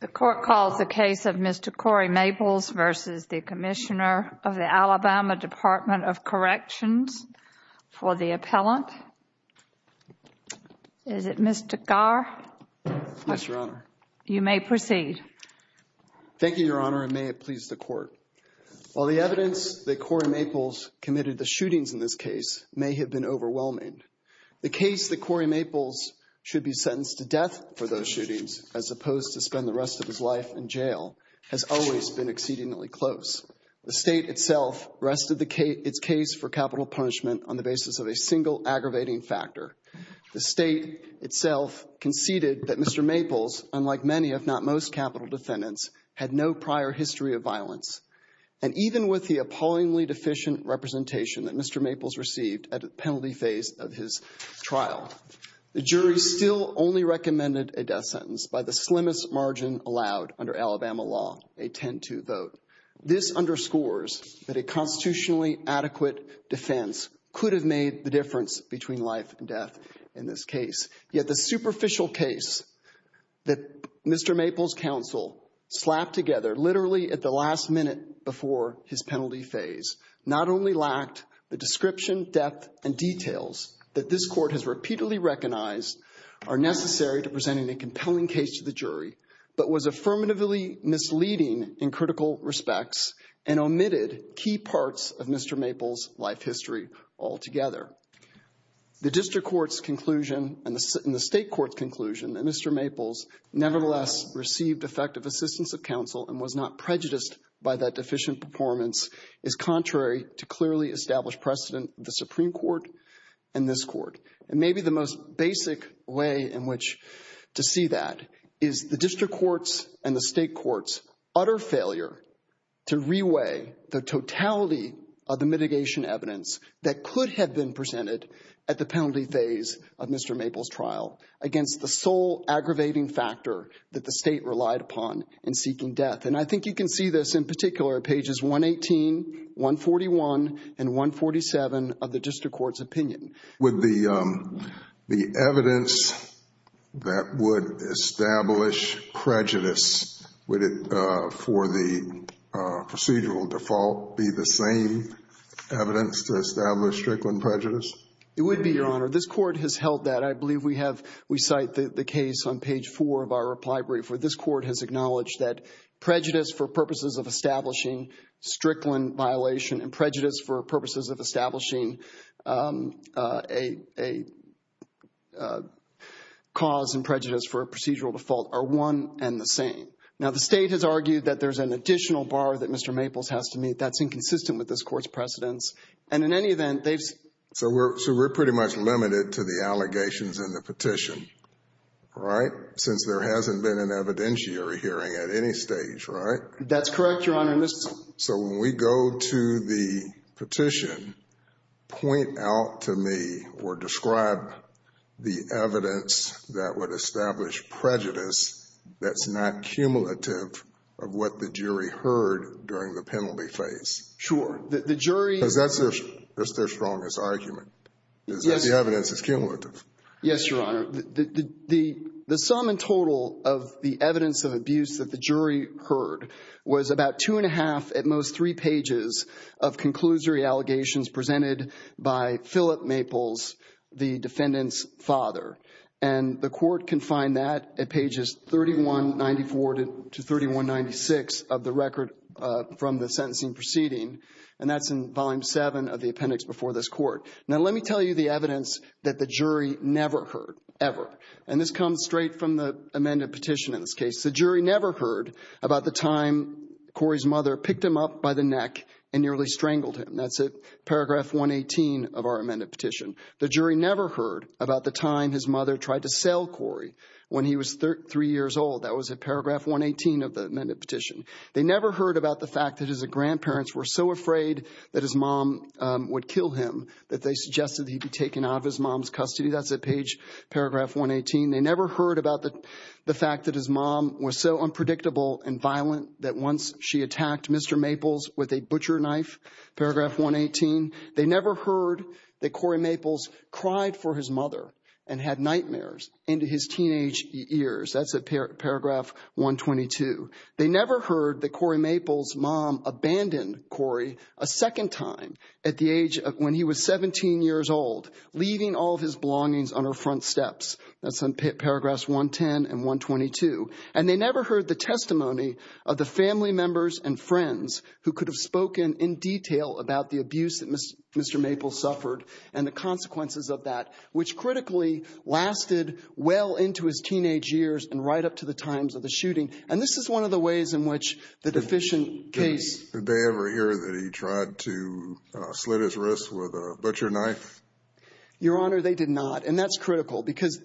The court calls the case of Mr. Corey Maples v. the Commissioner of the Alabama Department of Corrections for the appellant. Is it Mr. Carr? Yes, Your Honor. You may proceed. Thank you, Your Honor, and may it please the court. While the evidence that Corey Maples committed the shootings in this case may have been overwhelming, the case that Corey Maples should be sentenced to death for those shootings, as opposed to spend the rest of his life in jail, has always been exceedingly close. The state itself rested its case for capital punishment on the basis of a single aggravating factor. The state itself conceded that Mr. Maples, unlike many if not most capital defendants, had no prior history of violence. And even with the appallingly deficient representation that Mr. Maples received at a penalty phase of his trial, the jury still only recommended a death sentence by the slimmest margin allowed under Alabama law, a 10-2 vote. This underscores that a constitutionally adequate defense could have made the difference between life and death in this case. Yet the superficial case that Mr. Maples' counsel slapped together literally at the last minute before his penalty phase not only lacked the description, depth, and details that this court has repeatedly recognized are necessary to presenting a compelling case to the jury, but was affirmatively misleading in critical respects and omitted key parts of Mr. Maples' life history altogether. The district court's conclusion and the state court's conclusion that Mr. Maples nevertheless received effective assistance of counsel and was not prejudiced by that deficient performance is contrary to clearly established precedent of the Supreme Court and this court. And maybe the most basic way in which to see that is the court's utter failure to reweigh the totality of the mitigation evidence that could have been presented at the penalty phase of Mr. Maples' trial against the sole aggravating factor that the state relied upon in seeking death. And I think you can see this in particular pages 118, 141, and 147 of the district court's prejudice. Would it, for the procedural default, be the same evidence to establish Strickland prejudice? It would be, Your Honor. This court has held that. I believe we have, we cite the case on page four of our reply brief where this court has acknowledged that prejudice for purposes of establishing Strickland violation and prejudice for purposes of establishing a cause and prejudice for a cause are the same. Now, the state has argued that there's an additional bar that Mr. Maples has to meet that's inconsistent with this court's precedence. And in any event, they've. So we're, so we're pretty much limited to the allegations in the petition, right? Since there hasn't been an evidentiary hearing at any stage, right? That's correct, Your Honor. So when we go to the petition, point out to me or describe the evidence that would establish prejudice that's not cumulative of what the jury heard during the penalty phase. Sure. The jury. Because that's their strongest argument, is that the evidence is cumulative. Yes, Your Honor. The sum in total of the evidence of abuse that the jury heard was about two and a half, at most three pages, of conclusory allegations presented by the jury. And that's at pages 3194 to 3196 of the record from the sentencing proceeding. And that's in volume seven of the appendix before this court. Now, let me tell you the evidence that the jury never heard, ever. And this comes straight from the amended petition in this case. The jury never heard about the time Corey's mother picked him up by the neck and nearly strangled him. That's at paragraph 118 of our amended petition. The jury never heard about the time his three years old. That was at paragraph 118 of the amended petition. They never heard about the fact that his grandparents were so afraid that his mom would kill him that they suggested he be taken out of his mom's custody. That's at page paragraph 118. They never heard about the fact that his mom was so unpredictable and violent that once she attacked Mr. Maples with a butcher knife, paragraph 118. They never heard that Corey Maples cried for his mother and had nightmares into his teenage years. That's at paragraph 122. They never heard that Corey Maples' mom abandoned Corey a second time at the age of when he was 17 years old, leaving all of his belongings on her front steps. That's on paragraphs 110 and 122. And they never heard the testimony of the family members and friends who could have spoken in detail about the abuse that Mr. Maples suffered and the well into his teenage years and right up to the times of the shooting. And this is one of the ways in which the deficient case. Did they ever hear that he tried to slit his wrists with a butcher knife? Your Honor, they did not. And that's critical because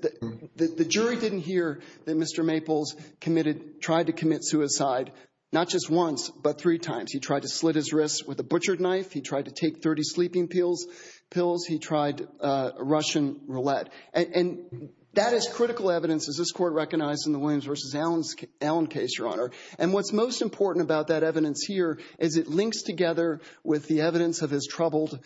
the jury didn't hear that Mr. Maples committed, tried to commit suicide, not just once, but three times. He tried to slit his wrists with a butcher knife. He tried to take 30 sleeping pills, pills. He tried a Russian roulette. And that is critical evidence, as this court recognized in the Williams v. Allen case, Your Honor. And what's most important about that evidence here is it links together with the evidence of his troubled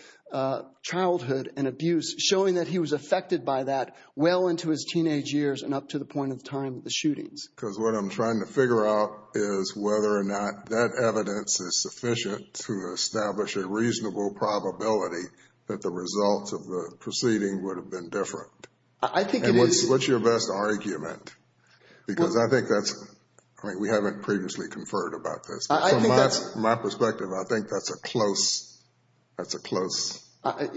childhood and abuse, showing that he was affected by that well into his teenage years and up to the point of time of the shootings. Because what I'm trying to figure out is whether or not that evidence is sufficient to establish a reasonable probability that the results of the proceeding would have been different. And what's your best argument? Because I think that's, I mean, we haven't previously conferred about this. But from my perspective, I think that's a close, that's a close.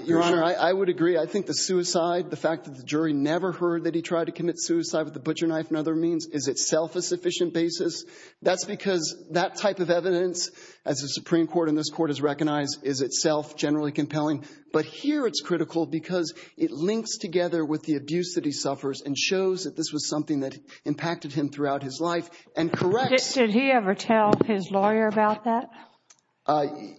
Your Honor, I would agree. I think the suicide, the fact that the jury never heard that he tried to commit suicide with a butcher knife and other means is itself a sufficient basis. That's because that type of evidence, as the Supreme Court and this court has recognized, is itself generally compelling. But here it's critical because it links together with the abuse that he suffers and shows that this was something that impacted him throughout his life and corrects. Did he ever tell his lawyer about that?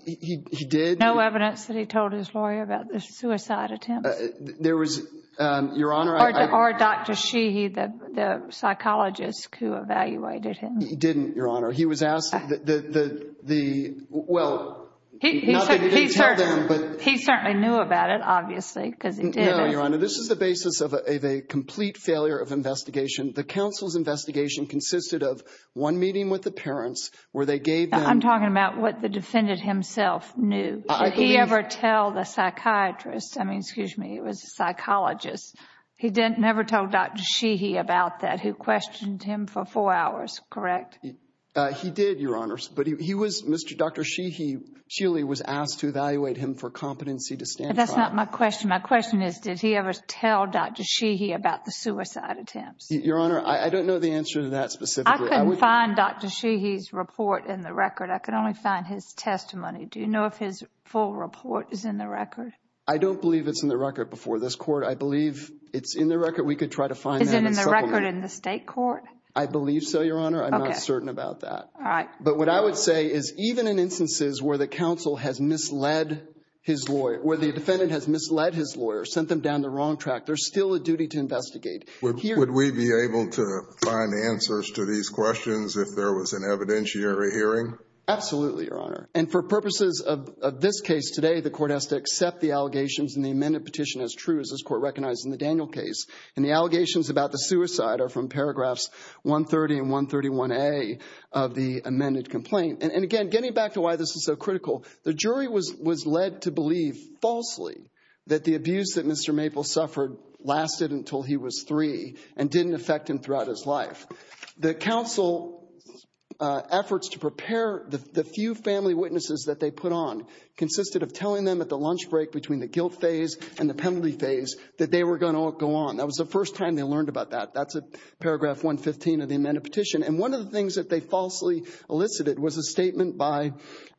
He did. No evidence that he told his lawyer about the suicide attempt? There was, Your Honor. Or Dr. Sheehy, the psychologist who evaluated him? He didn't, Your Honor. He was asked the, well, not that he didn't tell them. He certainly knew about it, obviously, because he did. No, Your Honor. This is the basis of a complete failure of investigation. The counsel's investigation consisted of one meeting with the parents where they gave them. I'm talking about what the defendant himself knew. Did he ever tell the psychiatrist? I mean, excuse me, it was a psychologist. He never told Dr. Sheehy about the suicide attempts. Your Honor, I don't know the answer to that specifically. I couldn't find Dr. Sheehy's report in the record. I could only find his testimony. Do you know if his full report is in the record? I don't believe it's in the record before this court. I believe it's in the record. We could try to find that. Is it in the record in the state court? I believe so, Your Honor. Okay. I'm not certain about that. All right. But what I would say is even in instances where the counsel has misled his lawyer, where the defendant has misled his lawyer, sent them down the wrong track, there's still a duty to investigate. Would we be able to find answers to these questions if there was an evidentiary hearing? Absolutely, Your Honor. And for purposes of this case today, the court has to accept the allegations in the amended petition as court recognized in the Daniel case. And the allegations about the suicide are from paragraphs 130 and 131A of the amended complaint. And again, getting back to why this is so critical, the jury was led to believe falsely that the abuse that Mr. Maple suffered lasted until he was three and didn't affect him throughout his life. The counsel efforts to prepare the few family witnesses that they put on consisted of telling them at the lunch break between the guilt phase and the penalty phase that they were going to go on. That was the first time they learned about that. That's at paragraph 115 of the amended petition. And one of the things that they falsely elicited was a statement by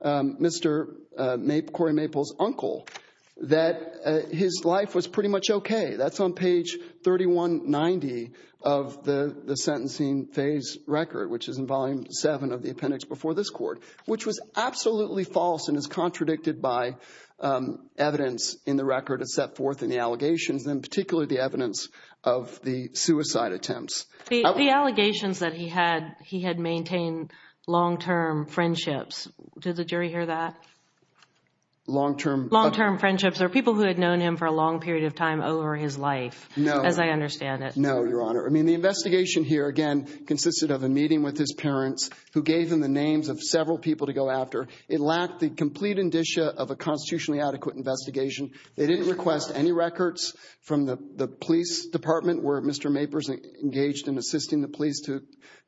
Mr. Cory Maple's uncle that his life was pretty much okay. That's on page 3190 of the sentencing phase record, which is in volume seven of the appendix before this court, which was absolutely false and is contradicted by evidence in the record and set forth in the allegations and particularly the evidence of the suicide attempts. The allegations that he had, he had maintained long-term friendships. Did the jury hear that? Long-term? Long-term friendships or people who had known him for a long period of time over his life, as I understand it. No, Your Honor. I mean, the investigation here, again, consisted of a meeting with his parents who gave him the names of several people to go after. It lacked the complete indicia of a constitutionally adequate investigation. They didn't request any records from the police department where Mr. Maples engaged in assisting the police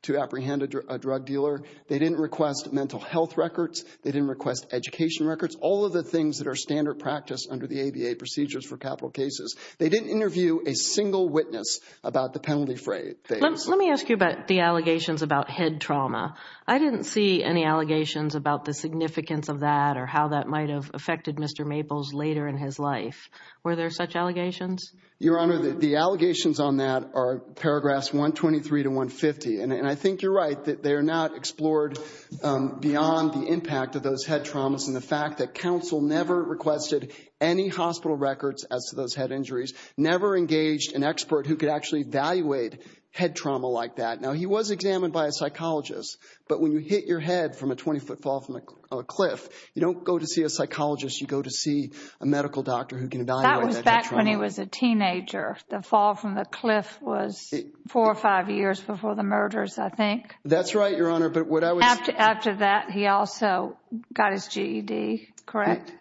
to apprehend a drug dealer. They didn't request mental health records. They didn't request education records. All of the things that are standard practice under the ABA procedures for capital cases. They didn't interview a single witness about the penalty phase. Let me ask you about the allegations about head trauma. I didn't see any allegations about the significance of that or how that might have affected Mr. Maples later in his life. Were there such allegations? Your Honor, the allegations on that are paragraphs 123 to 150, and I think you're right that they are not explored beyond the impact of those head traumas and the fact that counsel never requested any hospital records as to those head injuries, never engaged an expert who could actually evaluate head trauma like that. Now, he was examined by a psychologist, but when you hit your head from a 20-foot fall from a cliff, you don't go to see a psychologist. You go to see a medical doctor who can evaluate that head trauma. That was back when he was a teenager. The fall from the cliff was four or five years before the murders, I think. That's right, Your Honor, but what I was... After that, he also got his GED, correct?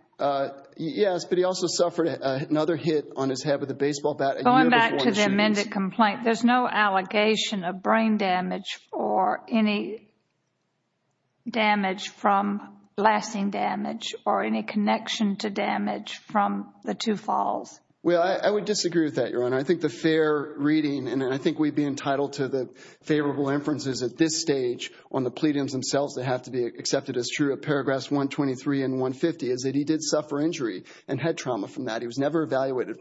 Yes, but he also suffered another hit on his head with a baseball bat a year before the shootings. Going back to the amended complaint, there's no allegation of brain damage or any damage from blasting damage or any connection to damage from the two falls. Well, I would disagree with that, Your Honor. I think the fair reading, and I think we'd be entitled to the favorable inferences at this stage on the pleadings themselves that have to be accepted as true of paragraphs 123 and 150 is that he did suffer injury and head trauma from that. He was never evaluated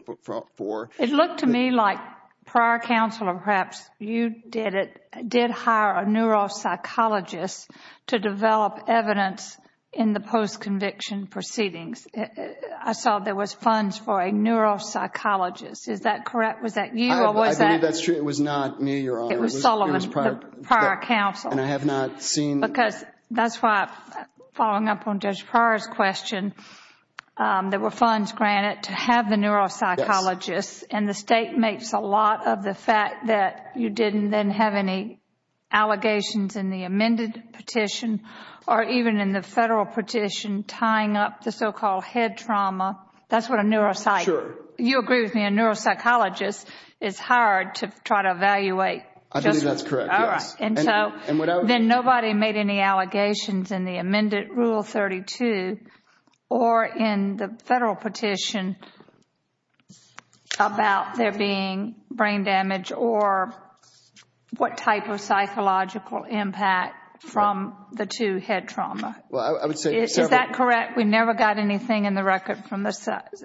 for... It looked to me like prior counsel, or perhaps you did it, did hire a neuropsychologist to develop evidence in the post-conviction proceedings. I saw there was funds for a neuropsychologist. Is that correct? Was that you or was that... I believe that's true. It was not me, Your Honor. It was Solomon, the prior counsel. And I have not seen... Because that's why, following up on Judge Pryor's question, there were and the state makes a lot of the fact that you didn't then have any allegations in the amended petition or even in the federal petition tying up the so-called head trauma. That's what a neuropsych... Sure. You agree with me. A neuropsychologist is hired to try to evaluate... I believe that's correct, yes. All right. And so then nobody made any allegations in the amended Rule 32 or in the federal petition about there being brain damage or what type of psychological impact from the two head trauma. Well, I would say... Is that correct? We never got anything in the record from the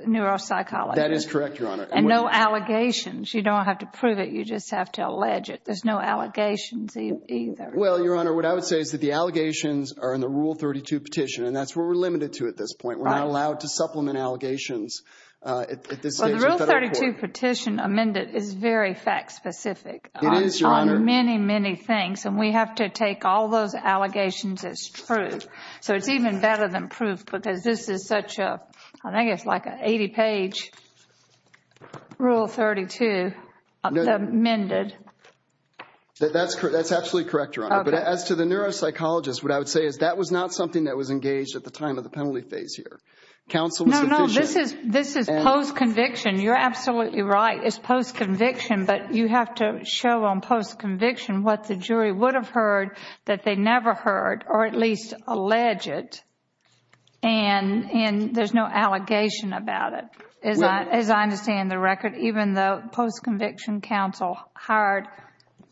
neuropsychologist? That is correct, Your Honor. And no allegations. You don't have to prove it. You just have to allege it. There's no allegations either. Well, Your Honor, what I would say is that the allegations are in the Rule 32 petition, and that's what we're limited to at this point. We're not allowed to supplement allegations at this stage of the federal court. Well, the Rule 32 petition amended is very fact-specific... It is, Your Honor. ...on many, many things, and we have to take all those allegations as true. So it's even better than proof because this is such a... I think it's like an 80-page Rule 32 amended. That's absolutely correct, Your Honor. Okay. As to the neuropsychologist, what I would say is that was not something that was engaged at the time of the penalty phase here. Counsel was sufficient... No, no. This is post-conviction. You're absolutely right. It's post-conviction, but you have to show on post-conviction what the jury would have heard that they never heard, or at least allege it. And there's no allegation about it, as I understand the record, even though post-conviction counsel hired,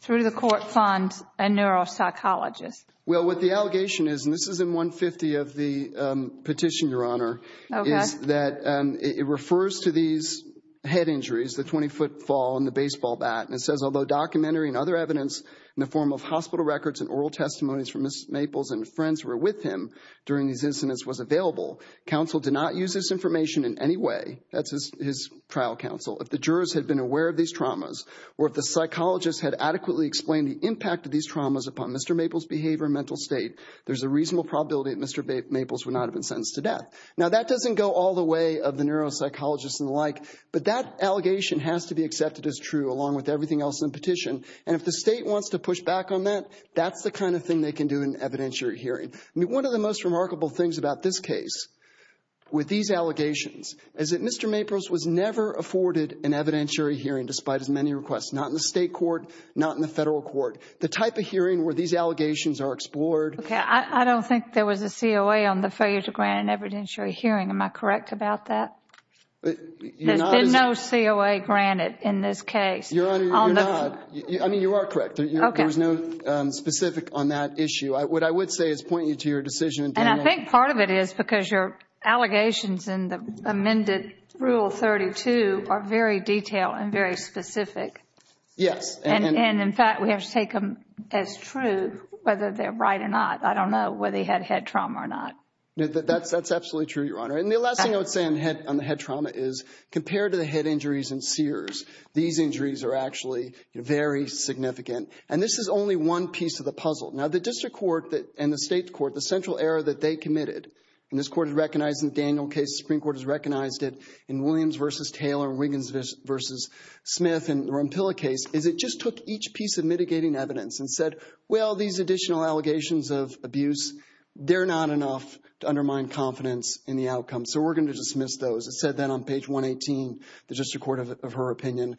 through the court fund, a neuropsychologist. Well, what the allegation is, and this is in 150 of the petition, Your Honor, is that it refers to these head injuries, the 20-foot fall and the baseball bat. And it says, although documentary and other evidence in the form of hospital records and oral testimonies from Ms. Maples and friends who were with him during these incidents was available, counsel did not use this information in any way. That's his trial counsel. If the jurors had been aware of these traumas, or if the psychologist had adequately explained the impact of these traumas upon Mr. Maples' behavior and mental state, there's a reasonable probability that Mr. Maples would not have been sentenced to death. Now, that doesn't go all the way of the neuropsychologist and the like, but that allegation has to be accepted as true, along with everything else in the petition. And if the state wants to push back on that, that's the kind of thing they can do in an evidentiary hearing. I mean, one of the most remarkable things about this case, with these allegations, is that Mr. Maples was never afforded an evidentiary hearing, despite as many requests, not in the state court, not in the federal court. The type of hearing where these allegations are explored... Okay, I don't think there was a COA on the failure to grant an evidentiary hearing. Am I correct about that? There's been no COA granted in this case. Your Honor, you're not. I mean, you are correct. There was no specific on that issue. What I would say is pointing you to your decision. And I think part of it is because your allegations in the amended Rule 32 are very detailed and very specific. Yes. And in fact, we have to take them as true, whether they're right or not. I don't know whether he had head trauma or not. That's absolutely true, Your Honor. And the last thing I would say on the head trauma is, compared to the head injuries in Sears, these injuries are actually very significant. And this is only one piece of the puzzle. Now, the district court and the state court, the central error that they committed, and this court has recognized in the Daniel case, the Supreme Court has recognized it in Williams v. Taylor and Wiggins v. Smith and the Rampilla case, is it just took each piece of mitigating evidence and said, well, these additional allegations of abuse, they're not enough to undermine confidence in the outcome. So we're going to dismiss those. It said that on page 118, the district court of her opinion.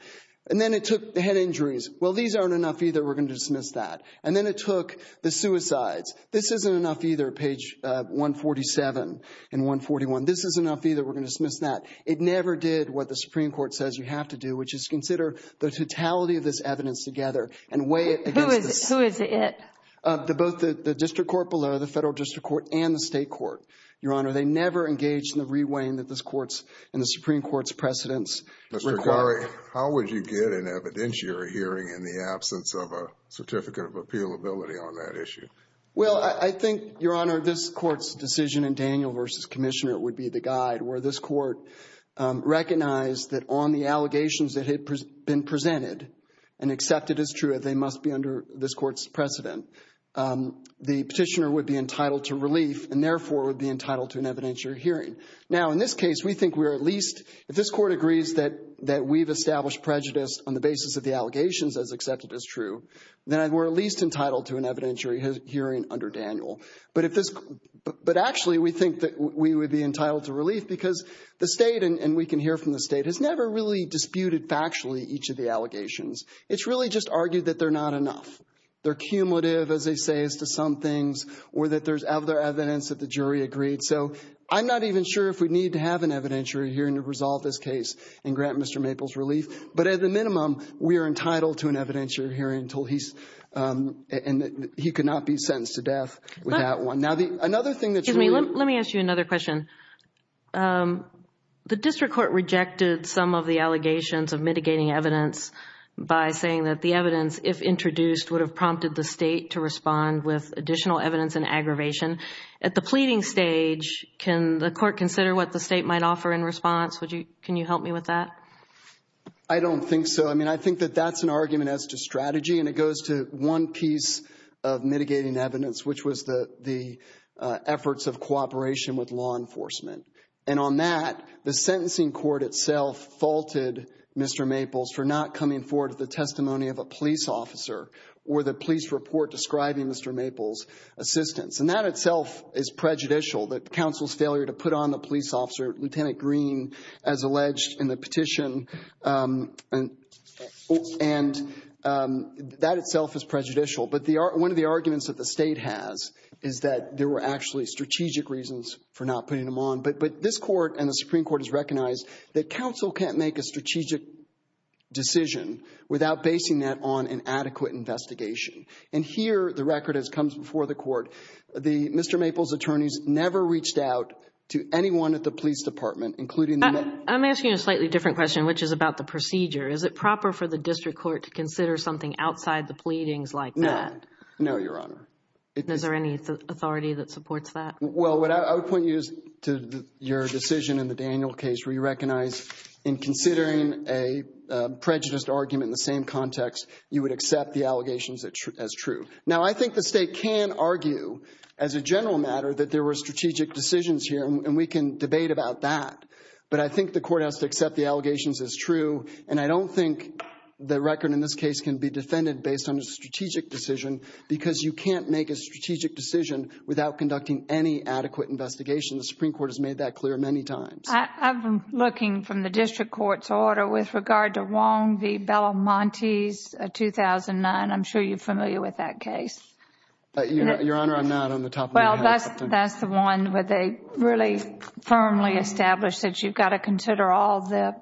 And then it took the head injuries. Well, these aren't enough either. We're going to dismiss that. And then it took the suicides. This isn't enough either. Page 147 and 141. This isn't enough either. We're going to dismiss that. It never did what the Supreme Court says you have to do, which is consider the totality of this evidence together and weigh it against this. Who is it? Both the district court below, the federal district court and the state court, Your Honor. They never engaged in the re-weighing that this court's and the Supreme Court's precedents require. Mr. Garre, how would you get an evidentiary hearing in the absence of a certificate of appeal ability on that issue? Well, I think, Your Honor, this court's decision in Daniel v. Commissioner would be the guide where this court recognized that on the allegations that had been presented and accepted as true, they must be under this court's precedent. The petitioner would be entitled to relief and therefore would be entitled to an evidentiary hearing. Now, in this case, we think we're at least if this court agrees that that we've established prejudice on the basis of the allegations as accepted as true, then we're at least entitled to an evidentiary hearing under Daniel. But actually, we think that we would be entitled to relief because the state, and we can hear from the state, has never really disputed factually each of the allegations. It's really just argued that they're not enough. They're cumulative, as they say, as to some things or that there's other evidence that the jury agreed. So I'm not even sure if we need to have an evidentiary hearing to resolve this case and but at the minimum, we are entitled to an evidentiary hearing until he's and he cannot be sentenced to death with that one. Now, the another thing that's... Excuse me, let me ask you another question. The district court rejected some of the allegations of mitigating evidence by saying that the evidence, if introduced, would have prompted the state to respond with additional evidence and aggravation. At the pleading stage, can the court consider what the state might offer in response? Would you, can you help me with that? I don't think so. I mean, I think that that's an argument as to strategy and it goes to one piece of mitigating evidence, which was the efforts of cooperation with law enforcement. And on that, the sentencing court itself faulted Mr. Maples for not coming forward with the testimony of a police officer or the police report describing Mr. Maples' assistance. And that itself is prejudicial, that counsel's failure to put on the police officer, Lieutenant Green, as alleged in the petition. And that itself is prejudicial. But one of the arguments that the state has is that there were actually strategic reasons for not putting him on. But this court and the Supreme Court has recognized that counsel can't make a strategic decision without basing that on an adequate investigation. And here, the record as comes before the court, Mr. Maples' attorneys never reached out to anyone at the police department, including the men. I'm asking a slightly different question, which is about the procedure. Is it proper for the district court to consider something outside the pleadings like that? No, Your Honor. Is there any authority that supports that? Well, what I would point you is to your decision in the Daniel case where you recognize in considering a prejudiced argument in the same context, you would accept the allegations as true. Now, I think the state can argue as a general matter that there were strategic decisions here, and we can debate about that. But I think the court has to accept the allegations as true. And I don't think the record in this case can be defended based on a strategic decision because you can't make a strategic decision without conducting any adequate investigation. The Supreme Court has made that clear many times. I'm looking from the district court's order with regard to Wong v. Bellamonte's 2009. I'm sure you're familiar with that case. Your Honor, I'm not on the top of my head. That's the one where they really firmly established that you've got to consider all the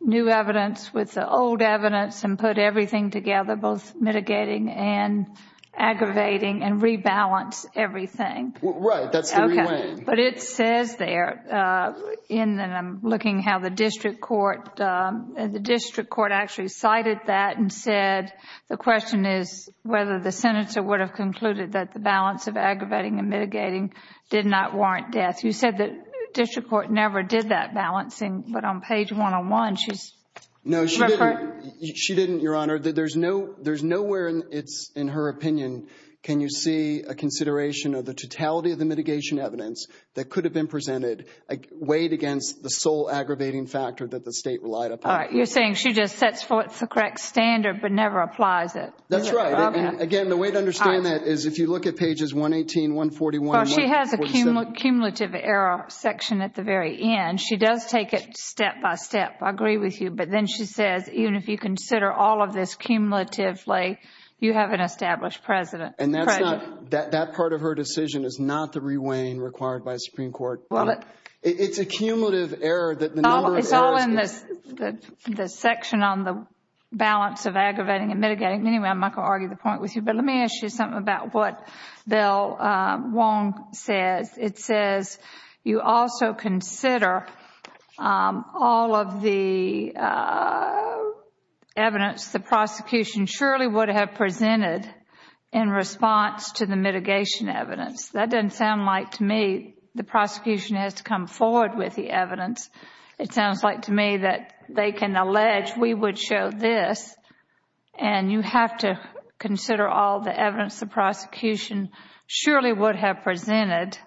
new evidence with the old evidence and put everything together, both mitigating and aggravating and rebalance everything. Right. That's the right way. But it says there, and I'm looking how the district court actually cited that and said, the question is whether the senator would have concluded that the balance of aggravating and mitigating did not warrant death. You said that district court never did that balancing, but on page 101, she's... No, she didn't, Your Honor. There's nowhere in her opinion can you see a consideration of the totality of the mitigation evidence that could have been presented weighed against the sole aggravating factor that the state relied upon. You're saying she just sets forth the correct standard, but never applies it. That's right. Again, the way to understand that is if you look at pages 118, 141... She has a cumulative error section at the very end. She does take it step by step. I agree with you. But then she says, even if you consider all of this cumulatively, you have an established precedent. And that part of her decision is not the re-weighing required by the Supreme Court. It's a cumulative error that the number of errors... It's all in the section on the balance of aggravating and mitigating. Anyway, I'm not going to argue the point with you, but let me ask you something about what Bill Wong says. It says you also consider all of the evidence the prosecution surely would have presented in response to the mitigation evidence. That doesn't sound like to me the prosecution has to come forward with the evidence. It sounds like to me that they can allege we would show this, and you have to consider all the evidence the prosecution surely would have presented.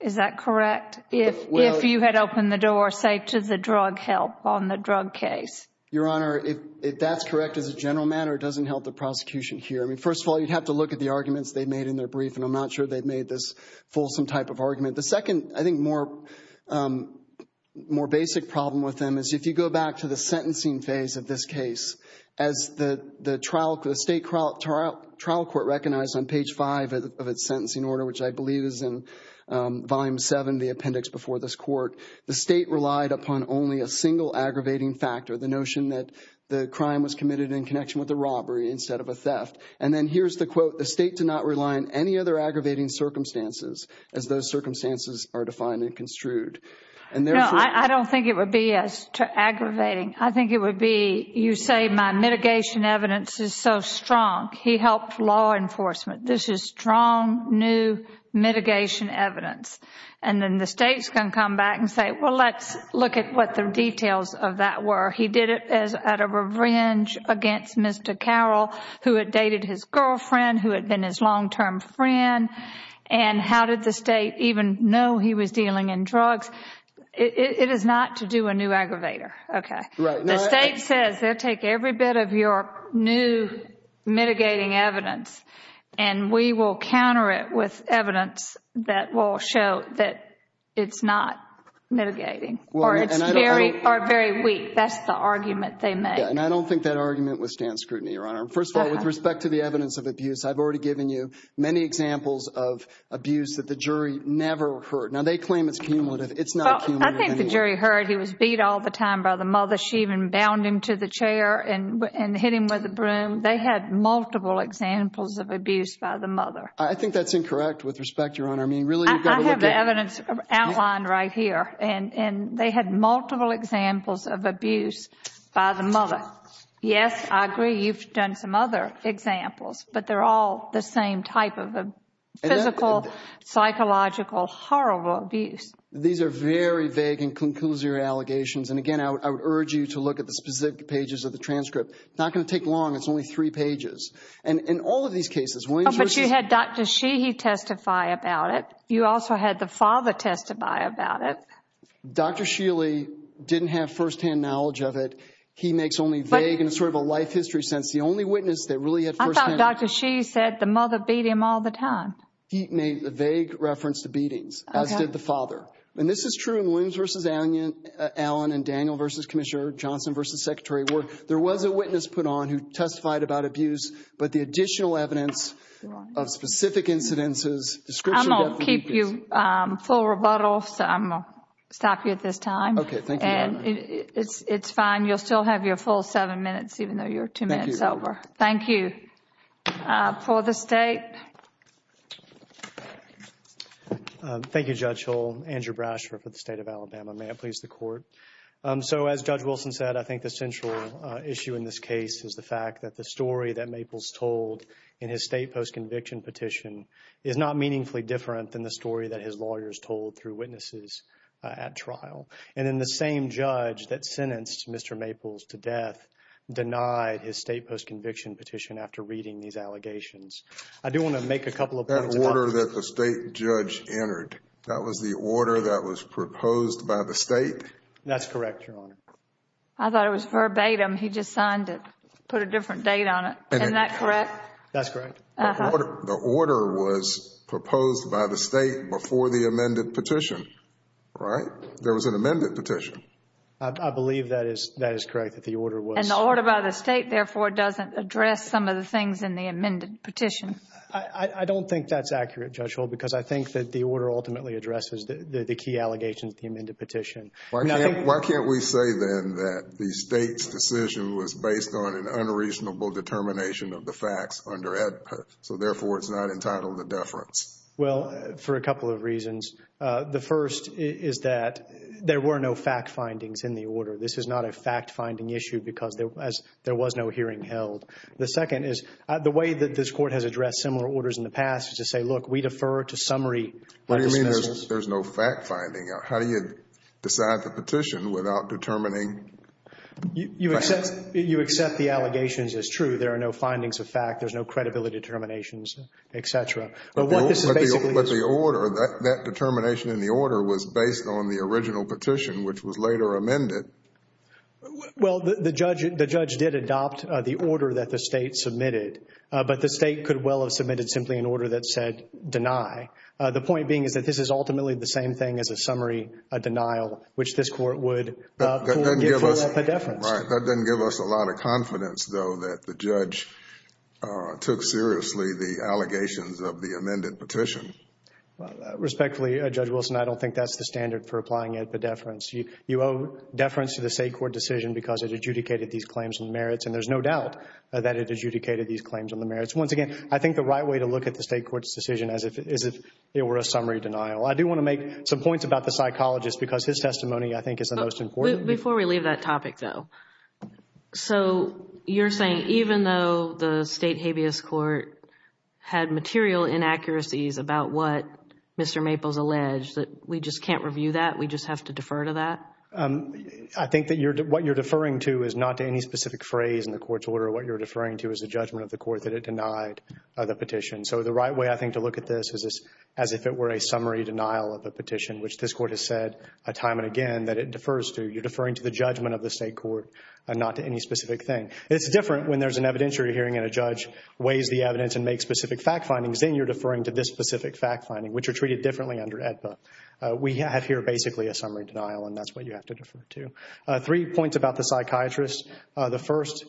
Is that correct? If you had opened the door, say, to the drug help on the drug case. Your Honor, if that's correct as a general matter, it doesn't help the prosecution here. I mean, first of all, you'd have to look at the arguments they made in their brief, and I'm not sure they made this fulsome type of argument. The second, I think, more basic problem with them is if you go back to the sentencing phase of this case, as the state trial court recognized on page 5 of its sentencing order, which I believe is in Volume 7, the appendix before this court, the state relied upon only a single aggravating factor, the notion that the crime was committed in connection with a robbery instead of a theft. And then here's the quote, the state did not rely on any other aggravating circumstances as those circumstances are defined and construed. No, I don't think it would be as aggravating. I think it would be, you say, my mitigation evidence is so strong. He helped law enforcement. This is strong, new mitigation evidence. And then the state's going to come back and say, well, let's look at what the details of that were. He did it as out of revenge against Mr. Carroll, who had dated his girlfriend, who had been his long-term friend. And how did the state even know he was dealing in drugs? It is not to do a new aggravator. The state says they'll take every bit of your new mitigating evidence, and we will counter it with evidence that will show that it's not mitigating or it's very weak. That's the argument they make. And I don't think that argument withstands scrutiny, Your Honor. First of all, with respect to the evidence of abuse, I've already given you many examples of abuse that the jury never heard. Now, they claim it's cumulative. It's not cumulative. I think the jury heard he was beat all the time by the mother. She even bound him to the chair and hit him with a broom. They had multiple examples of abuse by the mother. I think that's incorrect, with respect, Your Honor. I mean, really, you've got to look at— I have the evidence outlined right here, and they had multiple examples of abuse by the mother. Yes, I agree. You've done some other examples, but they're all the same type of a physical, psychological, horrible abuse. These are very vague and conclusory allegations. And again, I would urge you to look at the specific pages of the transcript. It's not going to take long. It's only three pages. And in all of these cases, Williams versus— Oh, but you had Dr. Sheehy testify about it. You also had the father testify about it. Dr. Sheehy didn't have firsthand knowledge of it. He makes only vague and sort of a life history sense. The only witness that really had firsthand— I thought Dr. Sheehy said the mother beat him all the time. He made a vague reference to beatings, as did the father. And this is true in Williams versus Allen and Daniel versus Commissioner Johnson versus Secretary Ward. There was a witness put on who testified about abuse, but the additional evidence of specific incidences, description— I'm going to keep you full rebuttal, so I'm going to stop you at this time. Okay. Thank you, Your Honor. And it's fine. You'll still have your full seven minutes, even though you're two minutes over. Thank you. For the State. Thank you, Judge Hull. Andrew Brash for the State of Alabama. May it please the Court. So, as Judge Wilson said, I think the central issue in this case is the fact that the story that Maples told in his state post-conviction petition is not meaningfully different than the story that his lawyers told through witnesses at trial. And then the same judge that sentenced Mr. Maples to death denied his state post-conviction petition after reading these allegations. I do want to make a couple of points about— That order that the State judge entered, that was the order that was proposed by the State? That's correct, Your Honor. I thought it was verbatim. He just signed it, put a different date on it. Isn't that correct? That's correct. The order was proposed by the State before the amended petition, right? There was an amended petition. I believe that is correct, that the order was— And the order by the State, therefore, doesn't address some of the things in the amended petition. I don't think that's accurate, Judge Hull, because I think that the order ultimately addresses the key allegations of the amended petition. Why can't we say, then, that the State's decision was based on an unreasonable determination of the facts under AEDPA, so, therefore, it's not entitled to deference? Well, for a couple of reasons. The first is that there were no fact findings in the order. This is not a fact-finding issue because there was no hearing held. The second is, the way that this Court has addressed similar orders in the past is to say, look, we defer to summary— What do you mean there's no fact-finding? How do you decide the petition without determining facts? You accept the allegations as true. There are no findings of fact. There's no credibility determinations, et cetera. What this is basically is— But the order, that determination in the order was based on the original petition, which was later amended. Well, the judge did adopt the order that the State submitted, but the State could well have submitted simply an order that said, deny. The point being is that this is ultimately the same thing as a summary denial, which this Court would pull up a deference. Right. That doesn't give us a lot of confidence, though, that the judge took seriously the amended petition. Respectfully, Judge Wilson, I don't think that's the standard for applying it, but deference. You owe deference to the State court decision because it adjudicated these claims and merits, and there's no doubt that it adjudicated these claims and the merits. Once again, I think the right way to look at the State court's decision is if it were a summary denial. I do want to make some points about the psychologist because his testimony, I think, is the most important. Before we leave that topic, though, so you're saying even though the State habeas court had material inaccuracies about what Mr. Maples alleged, that we just can't review that? We just have to defer to that? I think that what you're deferring to is not to any specific phrase in the court's order. What you're deferring to is the judgment of the court that it denied the petition. So the right way, I think, to look at this is as if it were a summary denial of a petition, which this Court has said time and again that it defers to. You're deferring to the judgment of the State court and not to any specific thing. It's different when there's an evidentiary hearing and a judge weighs the evidence and makes specific fact findings. Then you're deferring to this specific fact finding, which are treated differently under AEDPA. We have here basically a summary denial, and that's what you have to defer to. Three points about the psychologist. The first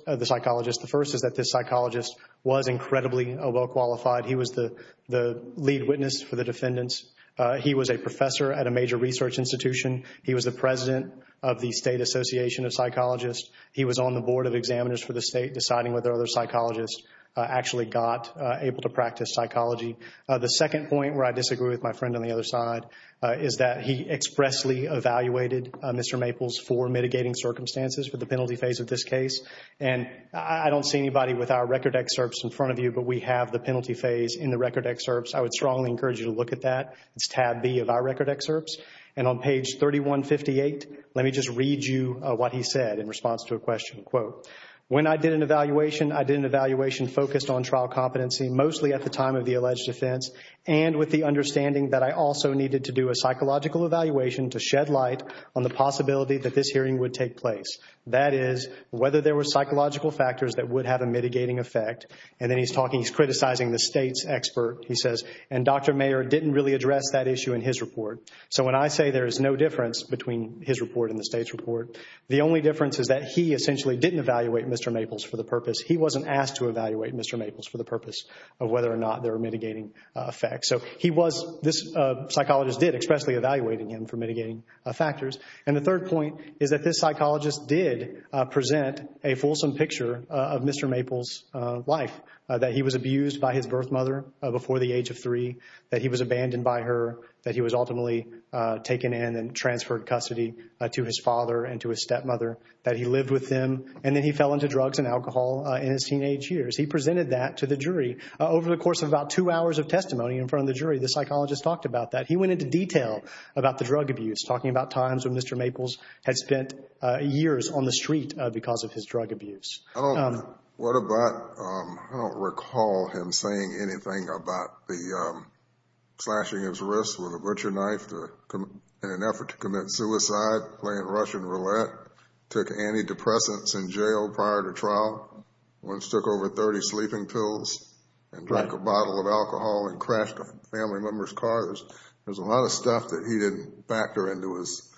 is that this psychologist was incredibly well qualified. He was the lead witness for the defendants. He was a professor at a major research institution. He was the president of the State Association of Psychologists. He was on the board of examiners for the State deciding whether other psychologists actually got able to practice psychology. The second point, where I disagree with my friend on the other side, is that he expressly evaluated Mr. Maples for mitigating circumstances for the penalty phase of this case. I don't see anybody with our record excerpts in front of you, but we have the penalty phase in the record excerpts. I would strongly encourage you to look at that. It's tab B of our record excerpts. On page 3158, let me just read you what he said in response to a question. When I did an evaluation, I did an evaluation focused on trial competency, mostly at the time of the alleged offense, and with the understanding that I also needed to do a psychological evaluation to shed light on the possibility that this hearing would take place. That is, whether there were psychological factors that would have a mitigating effect. Then he's talking, he's criticizing the State's expert. He says, and Dr. Mayer didn't really address that issue in his report. When I say there is no difference between his report and the State's report, the only difference is that he essentially didn't evaluate Mr. Maples for the purpose. He wasn't asked to evaluate Mr. Maples for the purpose of whether or not there were mitigating effects. This psychologist did expressly evaluate him for mitigating factors. The third point is that this psychologist did present a fulsome picture of Mr. Maples' life, that he was abused by his birth mother before the age of three, that he was abandoned by her, that he was ultimately taken in and transferred custody to his father and to his stepmother, that he lived with them, and then he fell into drugs and alcohol in his teenage years. He presented that to the jury over the course of about two hours of testimony in front of the jury. The psychologist talked about that. He went into detail about the drug abuse, talking about times when Mr. Maples had spent years on the street because of his drug abuse. What about, I don't recall him saying anything about the slashing his wrist with a butcher knife in an effort to commit suicide, playing Russian roulette, took antidepressants in jail prior to trial, once took over 30 sleeping pills and drank a bottle of alcohol and crashed a family member's car. There's a lot of stuff that he didn't factor into his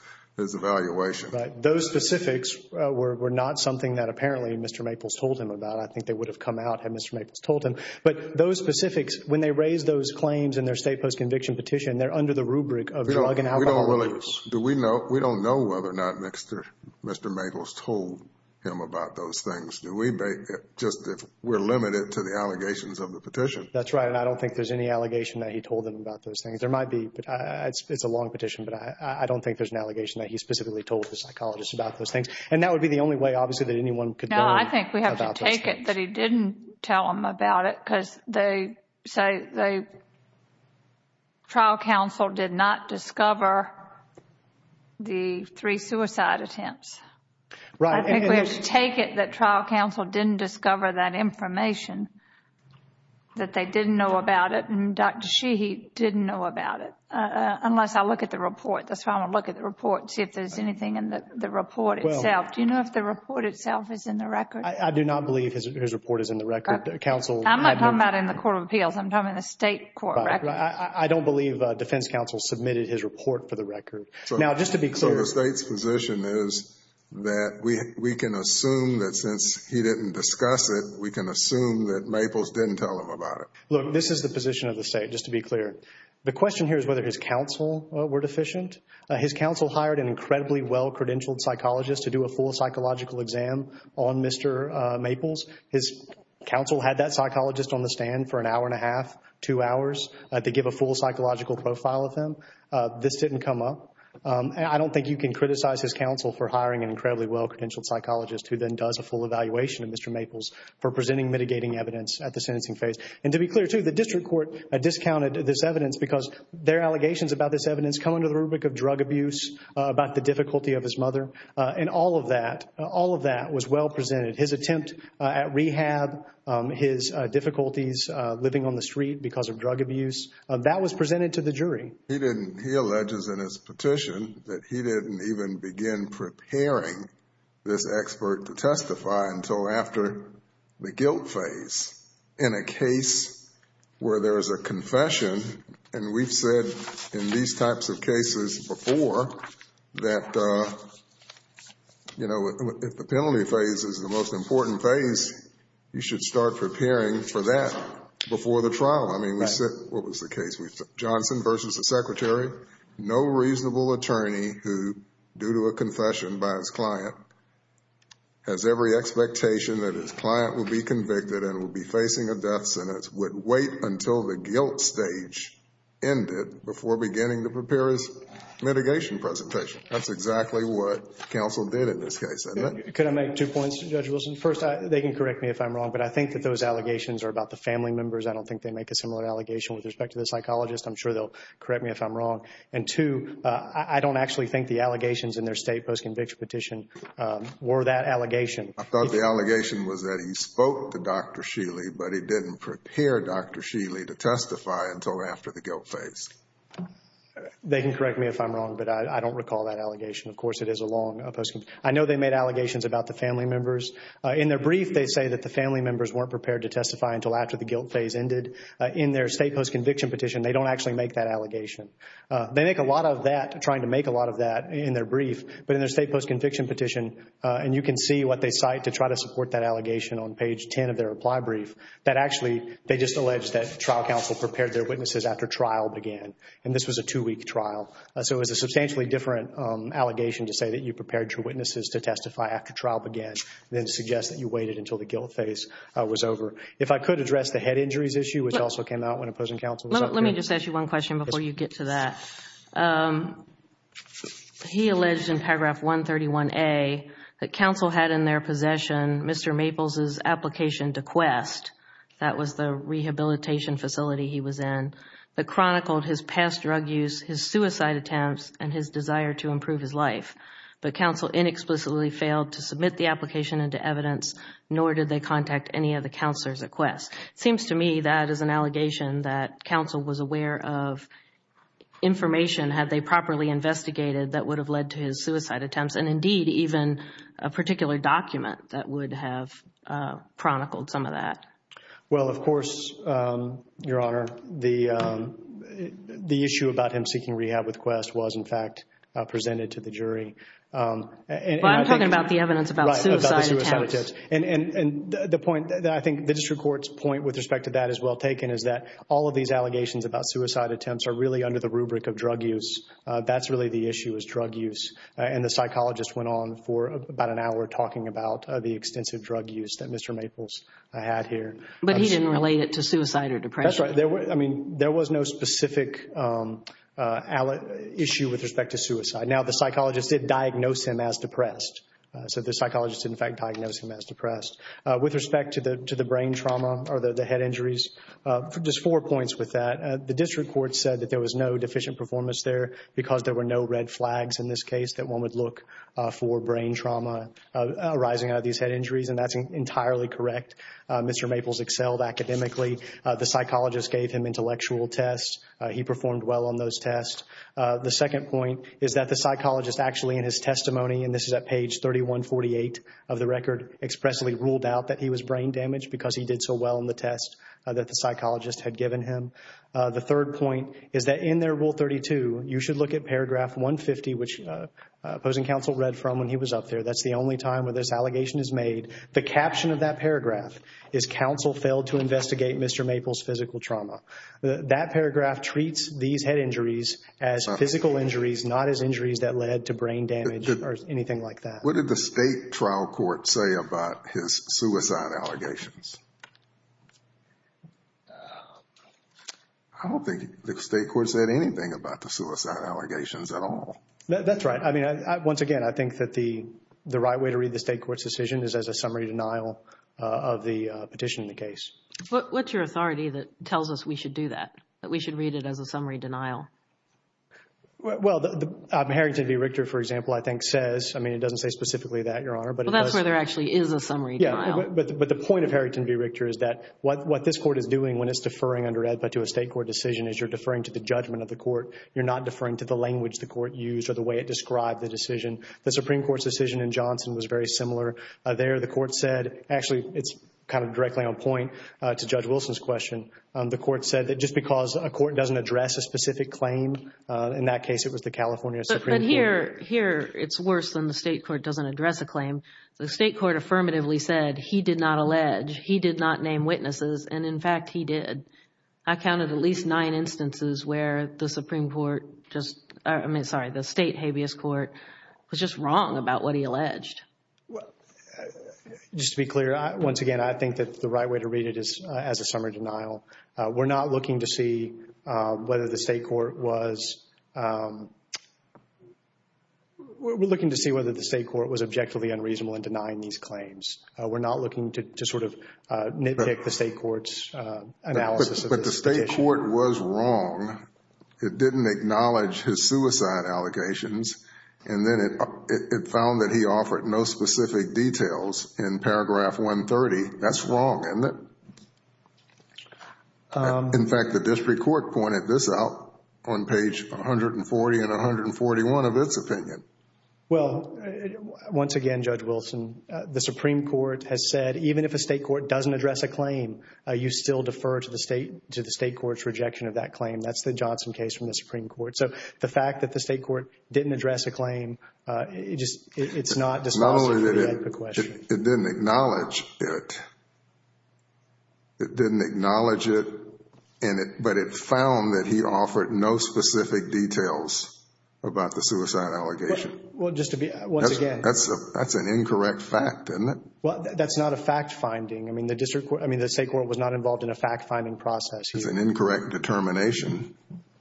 evaluation. Those specifics were not something that apparently Mr. Maples told him about. I think they would have come out had Mr. Maples told him. But those specifics, when they raise those claims in their state post-conviction petition, they're under the rubric of drug and alcohol abuse. Do we know, we don't know whether or not Mr. Maples told him about those things. Do we, just if we're limited to the allegations of the petition. That's right, and I don't think there's any allegation that he told them about those things. There might be, but it's a long petition, but I don't think there's an allegation that he specifically told the psychologist about those things. And that would be the only way, obviously, that anyone could know about those things. No, I think we have to take it that he didn't tell them about it because they say the trial counsel did not discover the three suicide attempts. Right. I think we have to take it that trial counsel didn't discover that information, that they didn't know about it, and Dr. Sheehy didn't know about it. Unless I look at the report. That's why I want to look at the report and see if there's anything in the report itself. Do you know if the report itself is in the record? I do not believe his report is in the record. Counsel had no... I'm not talking about in the Court of Appeals. I'm talking about the state court record. I don't believe defense counsel submitted his report for the record. Now, just to be clear... So the state's position is that we can assume that since he didn't discuss it, we can assume that Maples didn't tell them about it. Look, this is the position of the state, just to be clear. The question here is whether his counsel were deficient. His counsel hired an incredibly well-credentialed psychologist to do a full psychological exam on Mr. Maples. His counsel had that psychologist on the stand for an hour and a half, two hours, to give a full psychological profile of him. This didn't come up. I don't think you can criticize his counsel for hiring an incredibly well-credentialed psychologist who then does a full evaluation of Mr. Maples for presenting mitigating evidence at the sentencing phase. And to be clear, too, the district court discounted this evidence because their allegations about this evidence come under the rubric of drug abuse, about the difficulty of his mother. And all of that, all of that was well presented. His attempt at rehab, his difficulties living on the street because of drug abuse, that was presented to the jury. He didn't... He alleges in his petition that he didn't even begin preparing this expert to testify until after the guilt phase. In a case where there is a confession, and we've said in these types of cases before that, you know, if the penalty phase is the most important phase, you should start preparing for that before the trial. I mean, we said... Johnson versus the secretary. No reasonable attorney who, due to a confession by his client, has every expectation that his client will be convicted and will be facing a death sentence, would wait until the guilt stage ended before beginning to prepare his mitigation presentation. That's exactly what counsel did in this case. And... Could I make two points, Judge Wilson? First, they can correct me if I'm wrong, but I think that those allegations are about the family members. I don't think they make a similar allegation with respect to the psychologist. I'm sure they'll correct me if I'm wrong. And two, I don't actually think the allegations in their state post-conviction petition were that allegation. I thought the allegation was that he spoke to Dr. Sheely, but he didn't prepare Dr. Sheely to testify until after the guilt phase. They can correct me if I'm wrong, but I don't recall that allegation. Of course, it is a long post-conviction. I know they made allegations about the family members. In their brief, they say that the family members weren't prepared to testify until after the guilt phase ended. In their state post-conviction petition, they don't actually make that allegation. They make a lot of that, trying to make a lot of that in their brief. But in their state post-conviction petition, and you can see what they cite to try to support that allegation on page 10 of their reply brief, that actually they just alleged that trial counsel prepared their witnesses after trial began. And this was a two-week trial. So it was a substantially different allegation to say that you prepared your witnesses to testify after trial began than to suggest that you waited until the guilt phase was over. If I could address the head injuries issue, which also came out when opposing counsel was up here. Let me just ask you one question before you get to that. He alleged in paragraph 131A that counsel had in their possession Mr. Maples' application to quest, that was the rehabilitation facility he was in, that chronicled his past drug use, his suicide attempts, and his desire to improve his life. But counsel inexplicably failed to submit the application into evidence, nor did they request. It seems to me that is an allegation that counsel was aware of information, had they properly investigated, that would have led to his suicide attempts. And indeed, even a particular document that would have chronicled some of that. Well, of course, Your Honor, the issue about him seeking rehab with quest was, in fact, presented to the jury. But I'm talking about the evidence about suicide attempts. And the point that I think the district court's point with respect to that is well taken is that all of these allegations about suicide attempts are really under the rubric of drug use. That's really the issue is drug use. And the psychologist went on for about an hour talking about the extensive drug use that Mr. Maples had here. But he didn't relate it to suicide or depression. That's right. I mean, there was no specific issue with respect to suicide. Now, the psychologist did diagnose him as depressed. So the psychologist, in fact, diagnosed him as depressed. With respect to the brain trauma or the head injuries, just four points with that. The district court said that there was no deficient performance there because there were no red flags in this case that one would look for brain trauma arising out of these head injuries. And that's entirely correct. Mr. Maples excelled academically. The psychologist gave him intellectual tests. He performed well on those tests. The second point is that the psychologist actually in his testimony, and this is at page 3148 of the record, expressly ruled out that he was brain damaged because he did so well on the test that the psychologist had given him. The third point is that in their rule 32, you should look at paragraph 150, which opposing counsel read from when he was up there. That's the only time where this allegation is made. The caption of that paragraph is counsel failed to investigate Mr. Maples physical trauma. That paragraph treats these head injuries as physical injuries, not as injuries that led to brain damage or anything like that. What did the state trial court say about his suicide allegations? I don't think the state court said anything about the suicide allegations at all. That's right. I mean, once again, I think that the right way to read the state court's decision is as a summary denial of the petition in the case. What's your authority that tells us we should do that, that we should read it as a summary denial? Well, the Harrington v. Richter, for example, I think says, I mean, it doesn't say specifically that, Your Honor, but it does. Well, that's where there actually is a summary denial. Yeah, but the point of Harrington v. Richter is that what this court is doing when it's deferring under AEDPA to a state court decision is you're deferring to the judgment of the court. You're not deferring to the language the court used or the way it described the decision. The Supreme Court's decision in Johnson was very similar there. The court said, actually, it's kind of directly on point to Judge Wilson's question. The court said that just because a court doesn't address a specific claim, in that case, it was the California Supreme Court. But here, it's worse than the state court doesn't address a claim. The state court affirmatively said he did not allege, he did not name witnesses, and in fact, he did. I counted at least nine instances where the Supreme Court just, I mean, sorry, the state habeas court was just wrong about what he alleged. Well, just to be clear, once again, I think that the right way to read it is as a summary denial. We're not looking to see whether the state court was, we're looking to see whether the state court was objectively unreasonable in denying these claims. We're not looking to sort of nitpick the state court's analysis of this petition. But the state court was wrong. It didn't acknowledge his suicide allegations, and then it found that he offered no specific details in paragraph 130. That's wrong, isn't it? In fact, the district court pointed this out on page 140 and 141 of its opinion. Well, once again, Judge Wilson, the Supreme Court has said, even if a state court doesn't address a claim, you still defer to the state court's rejection of that claim. That's the Johnson case from the Supreme Court. So the fact that the state court didn't address a claim, it just, it's not dispositive of the question. It didn't acknowledge it. It didn't acknowledge it, but it found that he offered no specific details about the suicide allegation. Well, just to be, once again. That's an incorrect fact, isn't it? Well, that's not a fact finding. I mean, the district court, I mean, the state court was not involved in a fact finding process. It's an incorrect determination.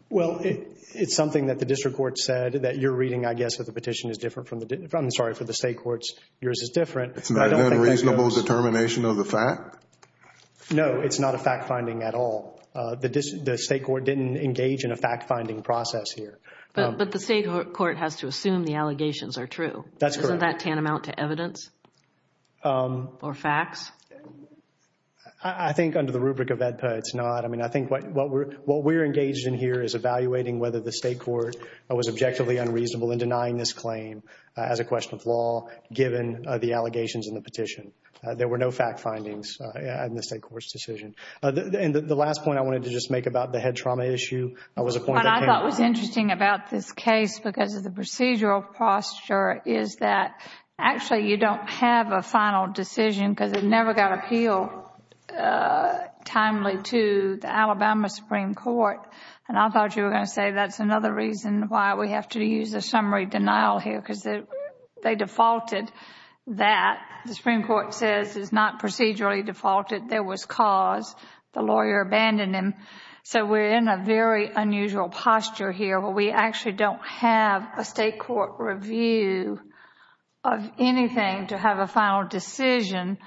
Well, it's something that the district court said that you're reading, I guess, that the petition is different from the, I'm sorry, for the state courts, yours is different. It's not an unreasonable determination of the fact? No, it's not a fact finding at all. The state court didn't engage in a fact finding process here. But the state court has to assume the allegations are true. That's correct. Isn't that tantamount to evidence or facts? I think under the rubric of AEDPA, it's not. I think what we're engaged in here is evaluating whether the state court was objectively unreasonable in denying this claim as a question of law, given the allegations in the petition. There were no fact findings in the state court's decision. And the last point I wanted to just make about the head trauma issue was a point that came up. What I thought was interesting about this case, because of the procedural posture, is that actually you don't have a final decision because it never got appealed timely to the Alabama Supreme Court. And I thought you were going to say that's another reason why we have to use a summary denial here because they defaulted that. The Supreme Court says it's not procedurally defaulted. There was cause. The lawyer abandoned him. So we're in a very unusual posture here where we actually don't have a state court review of anything to have a final decision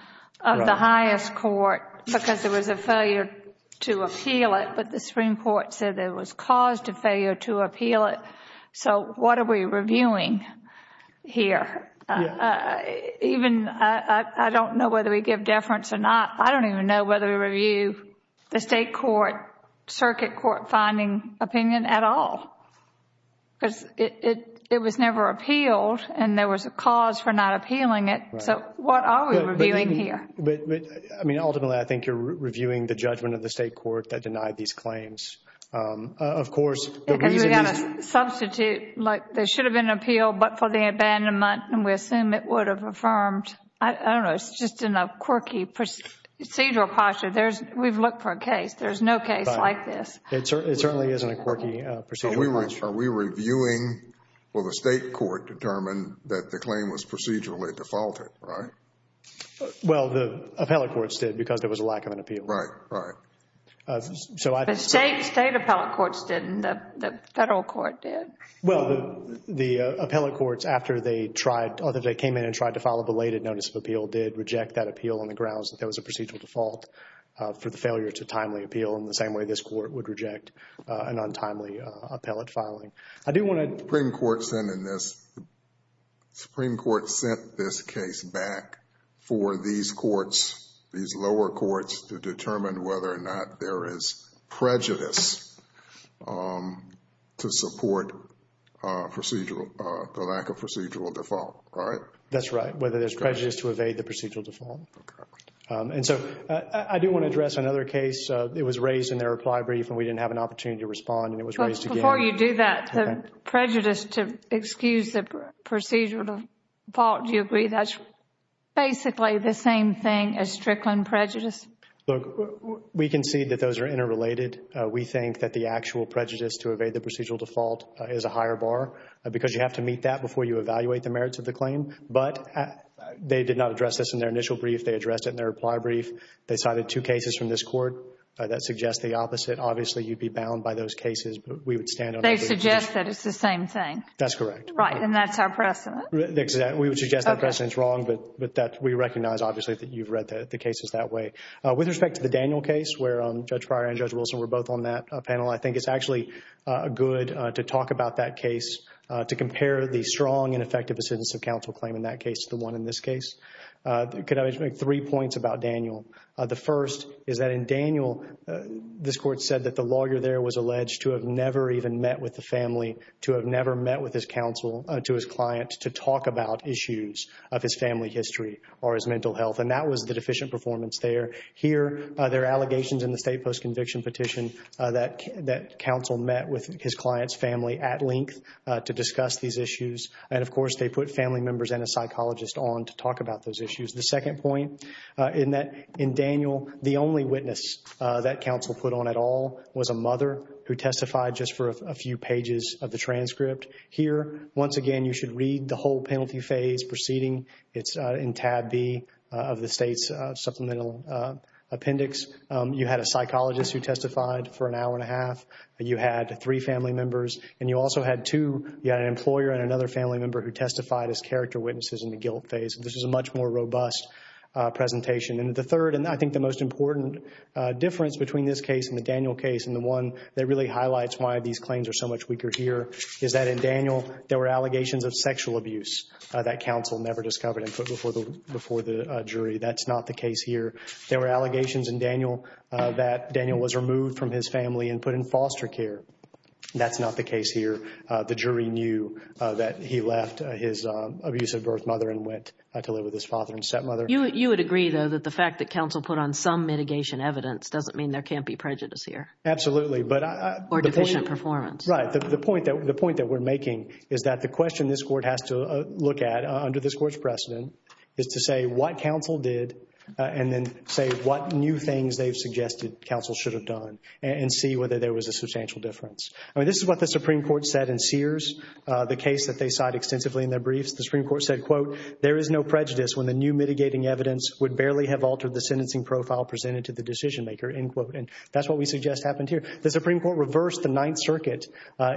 of the highest court because there was a failure to appeal it. But the Supreme Court said there was cause to failure to appeal it. So what are we reviewing here? Even I don't know whether we give deference or not. I don't even know whether we review the state court, circuit court finding opinion at all. Because it was never appealed and there was a cause for not appealing it. So what are we reviewing here? I mean, ultimately, I think you're reviewing the judgment of the state court that denied these claims. Of course, the reason these... And we've got to substitute like there should have been an appeal but for the abandonment and we assume it would have affirmed. I don't know. It's just in a quirky procedural posture. We've looked for a case. There's no case like this. It certainly isn't a quirky procedure. Are we reviewing... will the state court determine that the claim was procedurally defaulted, right? Well, the appellate courts did because there was a lack of an appeal. Right, right. State appellate courts didn't. The federal court did. Well, the appellate courts after they came in and tried to file a belated notice of appeal did reject that appeal on the grounds that there was a procedural default for the failure to timely appeal in the same way this court would reject an untimely appellate filing. I do want to... The Supreme Court sent this case back for these courts, these lower courts to determine whether or not there is prejudice to support the lack of procedural default, right? That's right. Whether there's prejudice to evade the procedural default. And so, I do want to address another case. It was raised in their reply brief and we didn't have an opportunity to respond and it was raised again. Before you do that, the prejudice to excuse the procedural default, do you agree that's basically the same thing as Strickland prejudice? Look, we concede that those are interrelated. We think that the actual prejudice to evade the procedural default is a higher bar because you have to meet that before you evaluate the merits of the claim. But they did not address this in their initial brief. They addressed it in their reply brief. They cited two cases from this court that suggest the opposite. Obviously, you'd be bound by those cases, but we would stand on... They suggest that it's the same thing. That's correct. Right. And that's our precedent. We would suggest that precedent is wrong, but we recognize obviously that you've read the cases that way. With respect to the Daniel case where Judge Pryor and Judge Wilson were both on that panel, I think it's actually good to talk about that case to compare the strong and effective dissidence of counsel claim in that case to the one in this case. Could I make three points about Daniel? The first is that in Daniel, this court said that the lawyer there was alleged to have never even met with the family, to have never met with his counsel, to his client to talk about issues of his family history or his mental health. And that was the deficient performance there. Here, there are allegations in the state post-conviction petition that counsel met with his client's family at length to discuss these issues. And of course, they put family members and a psychologist on to talk about those issues. The second point, in Daniel, the only witness that counsel put on at all was a mother who testified just for a few pages of the transcript. Here, once again, you should read the whole penalty phase proceeding. It's in tab B of the state's supplemental appendix. You had a psychologist who testified for an hour and a half. You had three family members. And you also had two, you had an employer and another family member who testified as character witnesses in the guilt phase. This is a much more robust presentation. And the third, and I think the most important difference between this case and the Daniel case, and the one that really highlights why these claims are so much weaker here, is that in Daniel, there were allegations of sexual abuse that counsel never discovered and put before the jury. That's not the case here. There were allegations in Daniel that Daniel was removed from his family and put in foster care. That's not the case here. The jury knew that he left his abusive birth mother and went to live with his father and stepmother. You would agree, though, that the fact that counsel put on some mitigation evidence doesn't mean there can't be prejudice here. Absolutely. Or deficient performance. Right. The point that we're making is that the question this court has to look at, under this court's precedent, is to say what counsel did and then say what new things they've suggested counsel should have done and see whether there was a substantial difference. I mean, this is what the Supreme Court said in Sears, the case that they cite extensively in their briefs. The Supreme Court said, quote, there is no prejudice when the new mitigating evidence would barely have altered the sentencing profile presented to the decision maker, end quote. And that's what we suggest happened here. The Supreme Court reversed the Ninth Circuit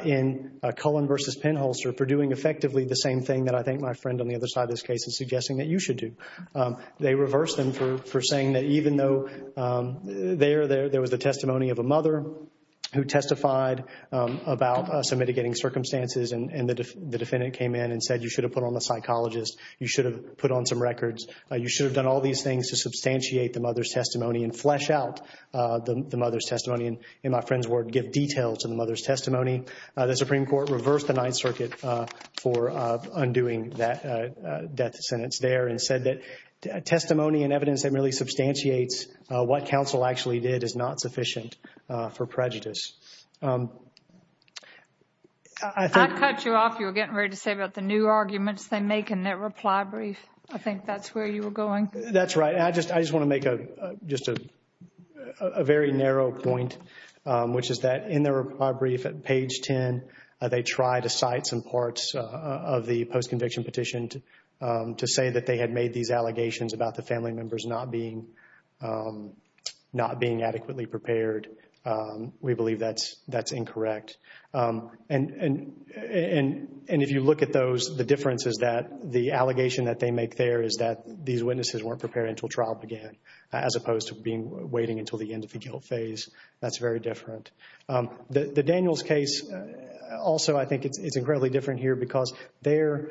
in Cullen versus Penholster for doing effectively the same thing that I think my friend on the other side of this case is suggesting that you should do. They reversed them for saying that even though there was a testimony of a mother who testified about some mitigating circumstances and the defendant came in and said you should have put on a psychologist, you should have put on some records, you should have done all these things to substantiate the mother's testimony and flesh out the mother's testimony and, in my friend's word, give detail to the mother's testimony. The Supreme Court reversed the Ninth Circuit for undoing that death sentence there and said that testimony and evidence that merely substantiates what counsel actually did is not sufficient for prejudice. I think... I'd cut you off. You were getting ready to say about the new arguments they make in their reply brief. I think that's where you were going. That's right. And I just want to make just a very narrow point, which is that in their reply brief at page 10, they tried to cite some parts of the post-conviction petition to say that they had made these allegations about the family members not being adequately prepared. We believe that's incorrect. And if you look at those, the difference is that the allegation that they make there is that these witnesses weren't prepared until trial began, as opposed to waiting until the end of the guilt phase. That's very different. The Daniels case, also, I think it's incredibly different here because their...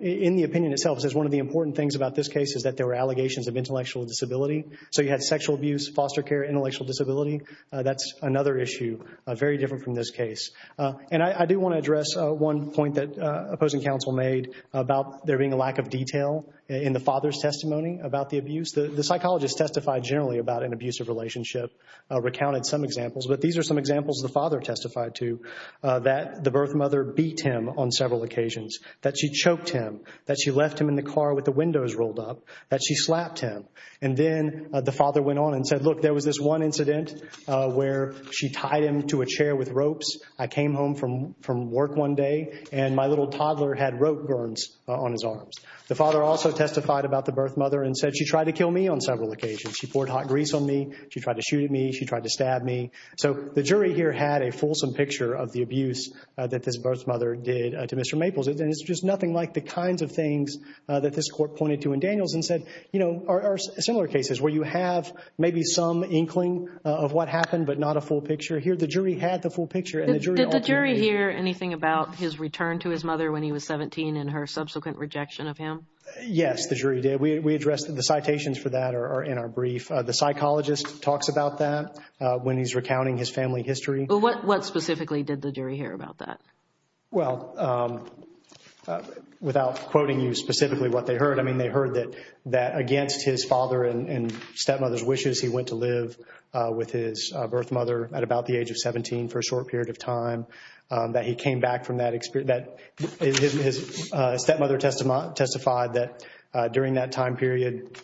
In the opinion itself, it says one of the important things about this case is that there were allegations of intellectual disability. So you had sexual abuse, foster care, intellectual disability. That's another issue, very different from this case. And I do want to address one point that opposing counsel made about there being a lack of detail in the father's testimony about the abuse. The psychologist testified generally about an abusive relationship, recounted some examples, but these are some examples the father testified to, that the birth mother beat him on several occasions, that she choked him, that she left him in the car with the windows rolled up, that she slapped him. And then the father went on and said, look, there was this one incident where she tied him to a chair with ropes. I came home from work one day and my little toddler had rope burns on his arms. The father also testified about the birth mother and said she tried to kill me on several occasions. She poured hot grease on me. She tried to shoot at me. She tried to stab me. So the jury here had a fulsome picture of the abuse that this birth mother did to Mr. Maples, and it's just nothing like the kinds of things that this court pointed to in Daniels and said, you know, are similar cases where you have maybe some inkling of what happened, but not a full picture. Here, the jury had the full picture. And the jury ultimately— Did the jury hear anything about his return to his mother when he was 17 and her subsequent rejection of him? Yes, the jury did. We addressed the citations for that are in our brief. The psychologist talks about that when he's recounting his family history. But what specifically did the jury hear about that? Well, without quoting you specifically what they heard, I mean, they heard that against his father and stepmother's wishes, he went to live with his birth mother at about the age of 17 for a short period of time, that he came back from that experience—his stepmother testified that during that time period,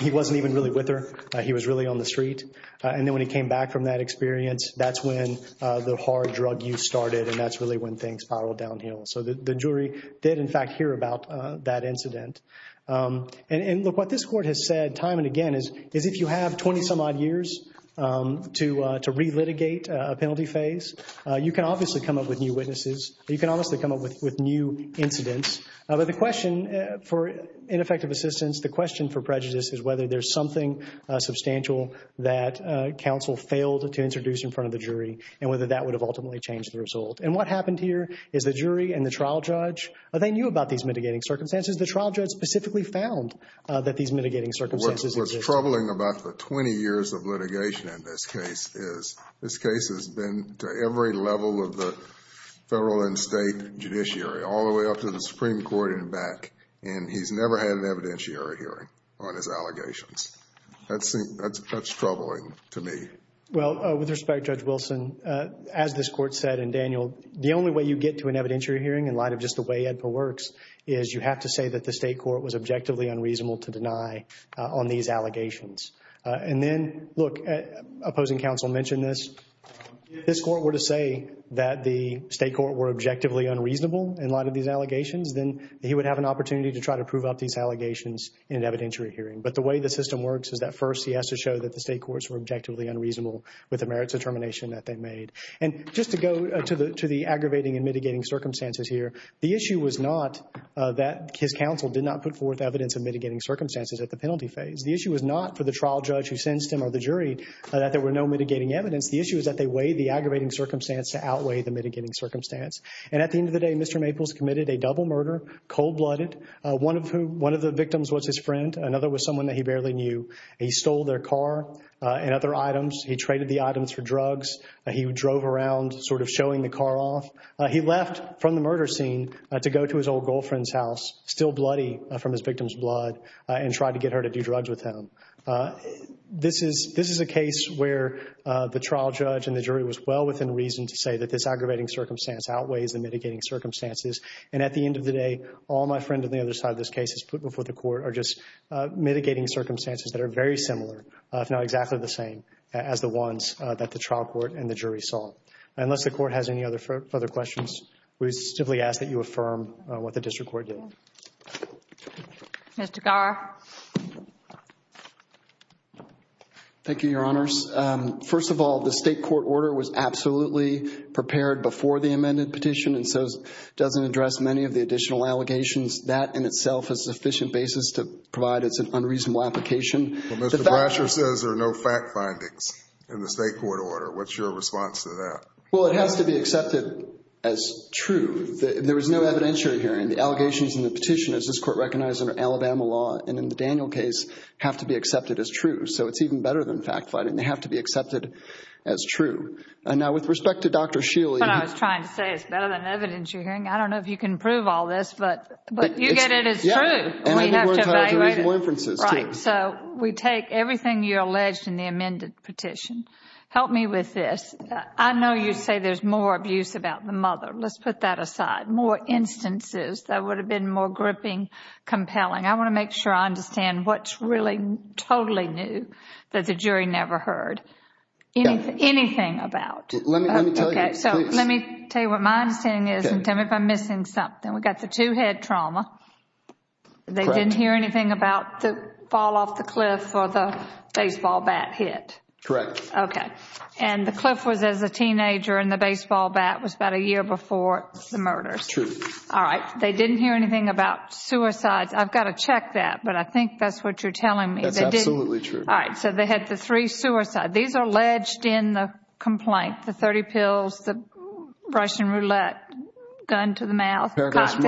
he wasn't even really with her. He was really on the street. And then when he came back from that experience, that's when the hard drug use started. And that's really when things spiraled downhill. So the jury did, in fact, hear about that incident. And look, what this court has said time and again is if you have 20-some-odd years to relitigate a penalty phase, you can obviously come up with new witnesses. You can obviously come up with new incidents. But the question for ineffective assistance, the question for prejudice is whether there's something substantial that counsel failed to introduce in front of the jury and whether that would have ultimately changed the result. And what happened here is the jury and the trial judge, they knew about these mitigating circumstances. The trial judge specifically found that these mitigating circumstances existed. What's troubling about the 20 years of litigation in this case is this case has been to every level of the federal and state judiciary, all the way up to the Supreme Court and back. And he's never had an evidentiary hearing on his allegations. That's troubling to me. Well, with respect, Judge Wilson, as this court said, and Daniel, the only way you get to an evidentiary hearing in light of just the way AEDPA works is you have to say that the state court was objectively unreasonable to deny on these allegations. And then, look, opposing counsel mentioned this. If this court were to say that the state court were objectively unreasonable in light of these allegations, then he would have an opportunity to try to prove up these allegations in an evidentiary hearing. But the way the system works is that first he has to show that the state courts were objectively unreasonable with the merits determination that they made. And just to go to the aggravating and mitigating circumstances here, the issue was not that his counsel did not put forth evidence of mitigating circumstances at the penalty phase. The issue was not for the trial judge who sentenced him or the jury that there were no mitigating evidence. The issue is that they weighed the aggravating circumstance to outweigh the mitigating circumstance. And at the end of the day, Mr. Maples committed a double murder, cold blooded. One of the victims was his friend. Another was someone that he barely knew. He stole their car and other items. He traded the items for drugs. He drove around sort of showing the car off. He left from the murder scene to go to his old girlfriend's house, still bloody from his victim's blood, and tried to get her to do drugs with him. This is a case where the trial judge and the jury was well within reason to say that this aggravating circumstance outweighs the mitigating circumstances. And at the end of the day, all my friend on the other side of this case has put before the court are just mitigating circumstances that are very similar, if not exactly the same, as the ones that the trial court and the jury saw. Unless the court has any other further questions, we simply ask that you affirm what the district court did. Mr. Garra. Thank you, Your Honors. First of all, the state court order was absolutely prepared before the amended petition and so doesn't address many of the additional allegations. That in itself is a sufficient basis to provide it's an unreasonable application. Well, Mr. Bratcher says there are no fact findings in the state court order. What's your response to that? Well, it has to be accepted as true. There was no evidentiary hearing. The allegations in the petition, as this court recognized under Alabama law and in the Daniel case, have to be accepted as true. So it's even better than fact finding. They have to be accepted as true. And now with respect to Dr. Shealy. What I was trying to say is better than evidence you're hearing. I don't know if you can prove all this, but you get it as true. And we have to evaluate it. So we take everything you alleged in the amended petition. Help me with this. I know you say there's more abuse about the mother. Let's put that aside. More instances that would have been more gripping, compelling. I want to make sure I understand what's really totally new that the jury never heard. Anything about. Let me tell you what my understanding is and tell me if I'm missing something. We got the two head trauma. They didn't hear anything about the fall off the cliff or the baseball bat hit. Correct. Okay. And the cliff was as a teenager and the baseball bat was about a year before the murder. All right. They didn't hear anything about suicides. I've got to check that. But I think that's what you're telling me. That's absolutely true. All right. So they had the three suicide. These are alleged in the complaint. The 30 pills, the Russian roulette gun to the mouth. I've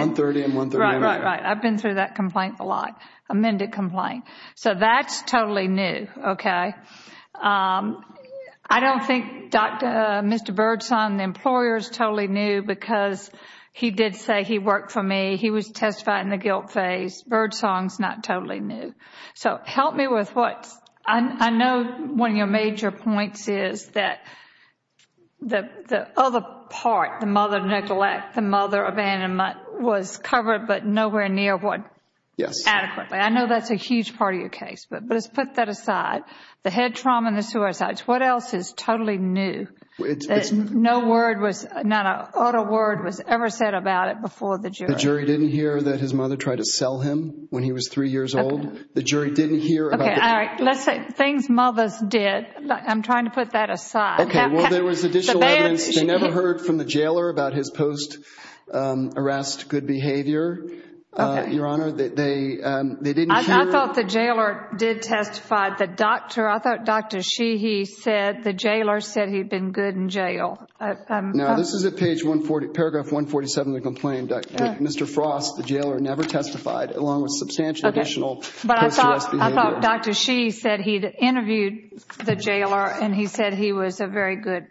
been through that complaint a lot. Amended complaint. So that's totally new. Okay. I don't think Mr. Birdsong, the employer's totally new because he did say he worked for me. He was testified in the guilt phase. Birdsong's not totally new. So help me with what I know. One of your major points is that the other part, the mother neglect, the mother abandonment was covered, but nowhere near what? Yes. Adequately. I know that's a huge part of your case, but let's put that aside. The head trauma and the suicides. What else is totally new? No word was, not a word was ever said about it before the jury. The jury didn't hear that his mother tried to sell him when he was three years old. The jury didn't hear. Okay. All right. Let's say things mothers did. I'm trying to put that aside. Okay. Well, there was additional evidence. They never heard from the jailer about his post-arrest good behavior. Your Honor, they didn't hear. I thought the jailer did testify. The doctor, I thought Dr. Sheehy said the jailer said he'd been good in jail. Now, this is at page 140, paragraph 147 of the complaint. Mr. Frost, the jailer never testified along with substantial additional post-arrest behavior. I thought Dr. Sheehy said he'd interviewed the jailer and he said he was a very good.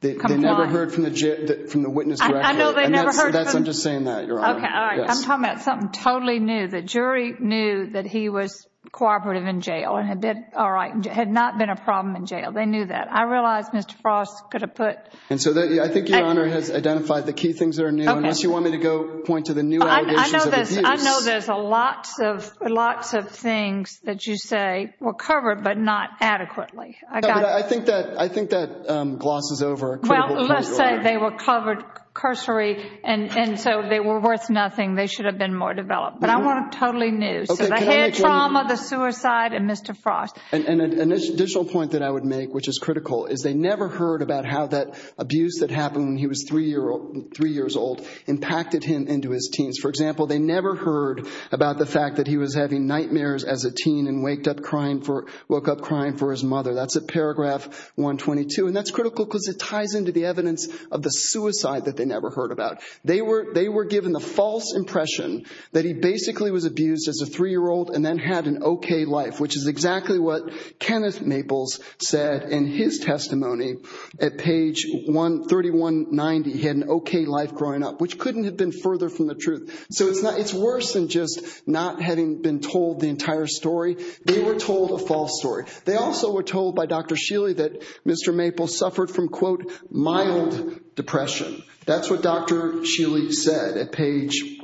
They never heard from the witness directly. I know they never heard from. I'm just saying that, Your Honor. Okay. All right. I'm talking about something totally new. The jury knew that he was cooperative in jail and had not been a problem in jail. They knew that. I realize Mr. Frost could have put— And so I think Your Honor has identified the key things that are new. Okay. Unless you want me to go point to the new allegations of abuse. I know there's lots of things that you say were covered but not adequately. No, but I think that glosses over a critical point, Your Honor. Well, let's say they were covered cursory and so they were worth nothing. They should have been more developed. But I want a totally new. So the head trauma, the suicide, and Mr. Frost. And an additional point that I would make, which is critical, is they never heard about how that abuse that happened when he was three years old impacted him into his teens. For example, they never heard about the fact that he was having nightmares as a teen and woke up crying for his mother. That's at paragraph 122. And that's critical because it ties into the evidence of the suicide that they never heard about. They were given the false impression that he basically was abused as a three-year-old and then had an okay life, which is exactly what Kenneth Maples said in his testimony at page 3190. He had an okay life growing up, which couldn't have been further from the truth. So it's worse than just not having been told the entire story. They were told a false story. They also were told by Dr. Sheely that Mr. Maples suffered from, quote, mild depression. That's what Dr. Sheely said at page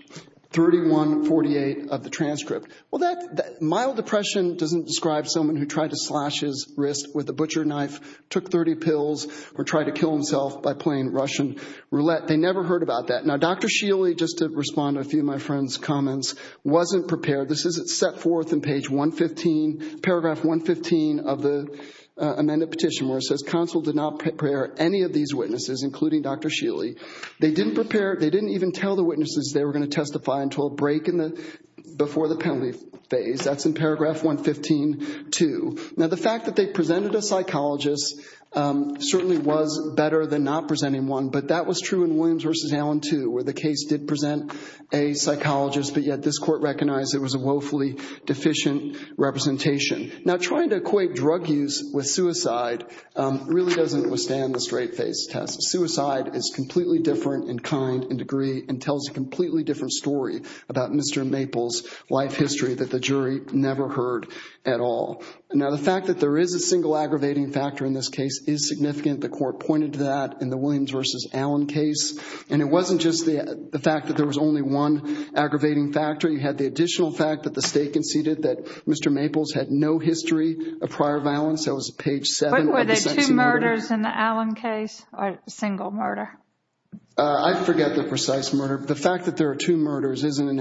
3148 of the transcript. Well, that mild depression doesn't describe someone who tried to slash his wrist with a butcher knife, took 30 pills, or tried to kill himself by playing Russian roulette. They never heard about that. Now, Dr. Sheely, just to respond to a few of my friend's comments, wasn't prepared. This is set forth in paragraph 115 of the amended petition where it says, counsel did not prepare any of these witnesses, including Dr. Sheely. They didn't prepare, they didn't even tell the witnesses they were going to testify until a break before the penalty phase. That's in paragraph 115.2. Now, the fact that they presented a psychologist certainly was better than not presenting one, but that was true in Williams v. Allen, too, where the case did present a psychologist, but yet this court recognized it was a woefully deficient representation. Now, trying to equate drug use with suicide really doesn't withstand the straight face test. Suicide is completely different in kind and degree and tells a completely different story about Mr. Maples' life history that the jury never heard at all. Now, the fact that there is a single aggravating factor in this case is significant. The court pointed to that in the Williams v. Allen case, and it wasn't just the fact that there was only one aggravating factor. You had the additional fact that the state conceded that Mr. Maples had no history of prior violence. That was page 7 of the section on murder. But were there two murders in the Allen case or a single murder? I forget the precise murder. The fact that there are two murders is an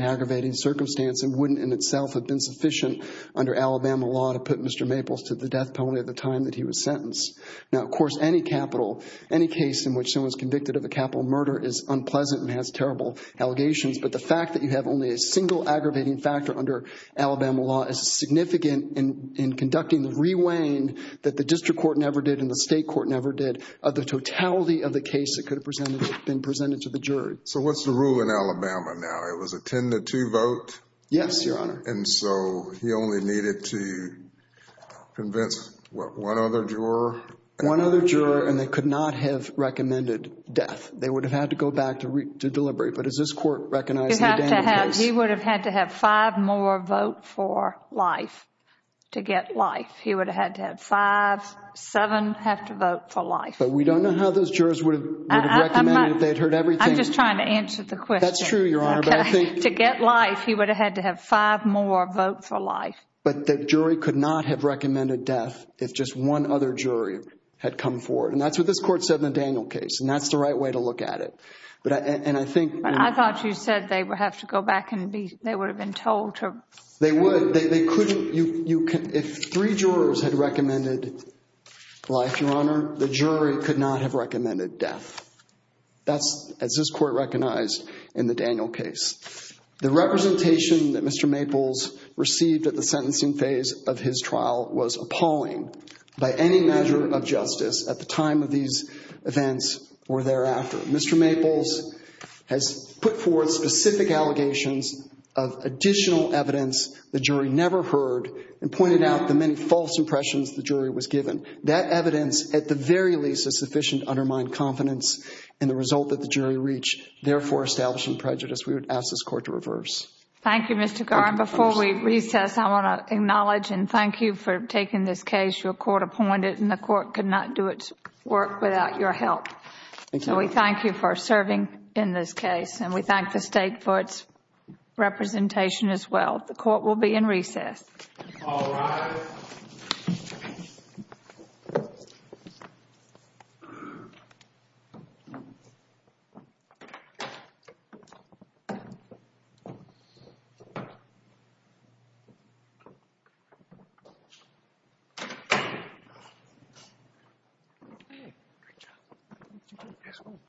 aggravating circumstance and wouldn't in itself have been sufficient under Alabama law to put Mr. Maples to the death penalty at the time that he was sentenced. Now, of course, any capital, any case in which someone is convicted of a capital murder is unpleasant and has terrible allegations. But the fact that you have only a single aggravating factor under Alabama law is significant in conducting the re-weighing that the district court never did and the state court never did of the totality of the case that could have been presented to the jury. So what's the rule in Alabama now? It was a 10-2 vote? Yes, Your Honor. And so he only needed to convince, what, one other juror? One other juror, and they could not have recommended death. They would have had to go back to deliberate. But does this court recognize the Daniel case? He would have had to have five more vote for life to get life. He would have had to have five, seven have to vote for life. But we don't know how those jurors would have recommended if they'd heard everything. I'm just trying to answer the question. That's true, Your Honor. But I think— To get life, he would have had to have five more vote for life. But the jury could not have recommended death if just one other jury had come forward. And that's what this court said in the Daniel case. And that's the right way to look at it. But— and I think— I thought you said they would have to go back and be— they would have been told to— They would. They couldn't— if three jurors had recommended life, Your Honor, the jury could not have recommended death. That's, as this court recognized, in the Daniel case. The representation that Mr. Maples received at the sentencing phase of his trial was appalling. By any measure of justice, at the time of these events or thereafter, Mr. Maples has put forward specific allegations of additional evidence the jury never heard and pointed out the many false impressions the jury was given. That evidence, at the very least, is sufficient to undermine confidence in the result that the jury reached, therefore establishing prejudice. We would ask this court to reverse. Thank you, Mr. Garn. Before we recess, I want to acknowledge and thank you for taking this case. Your court appointed and the court could not do its work without your help. So we thank you for serving in this case. And we thank the state for its representation as well. The court will be in recess.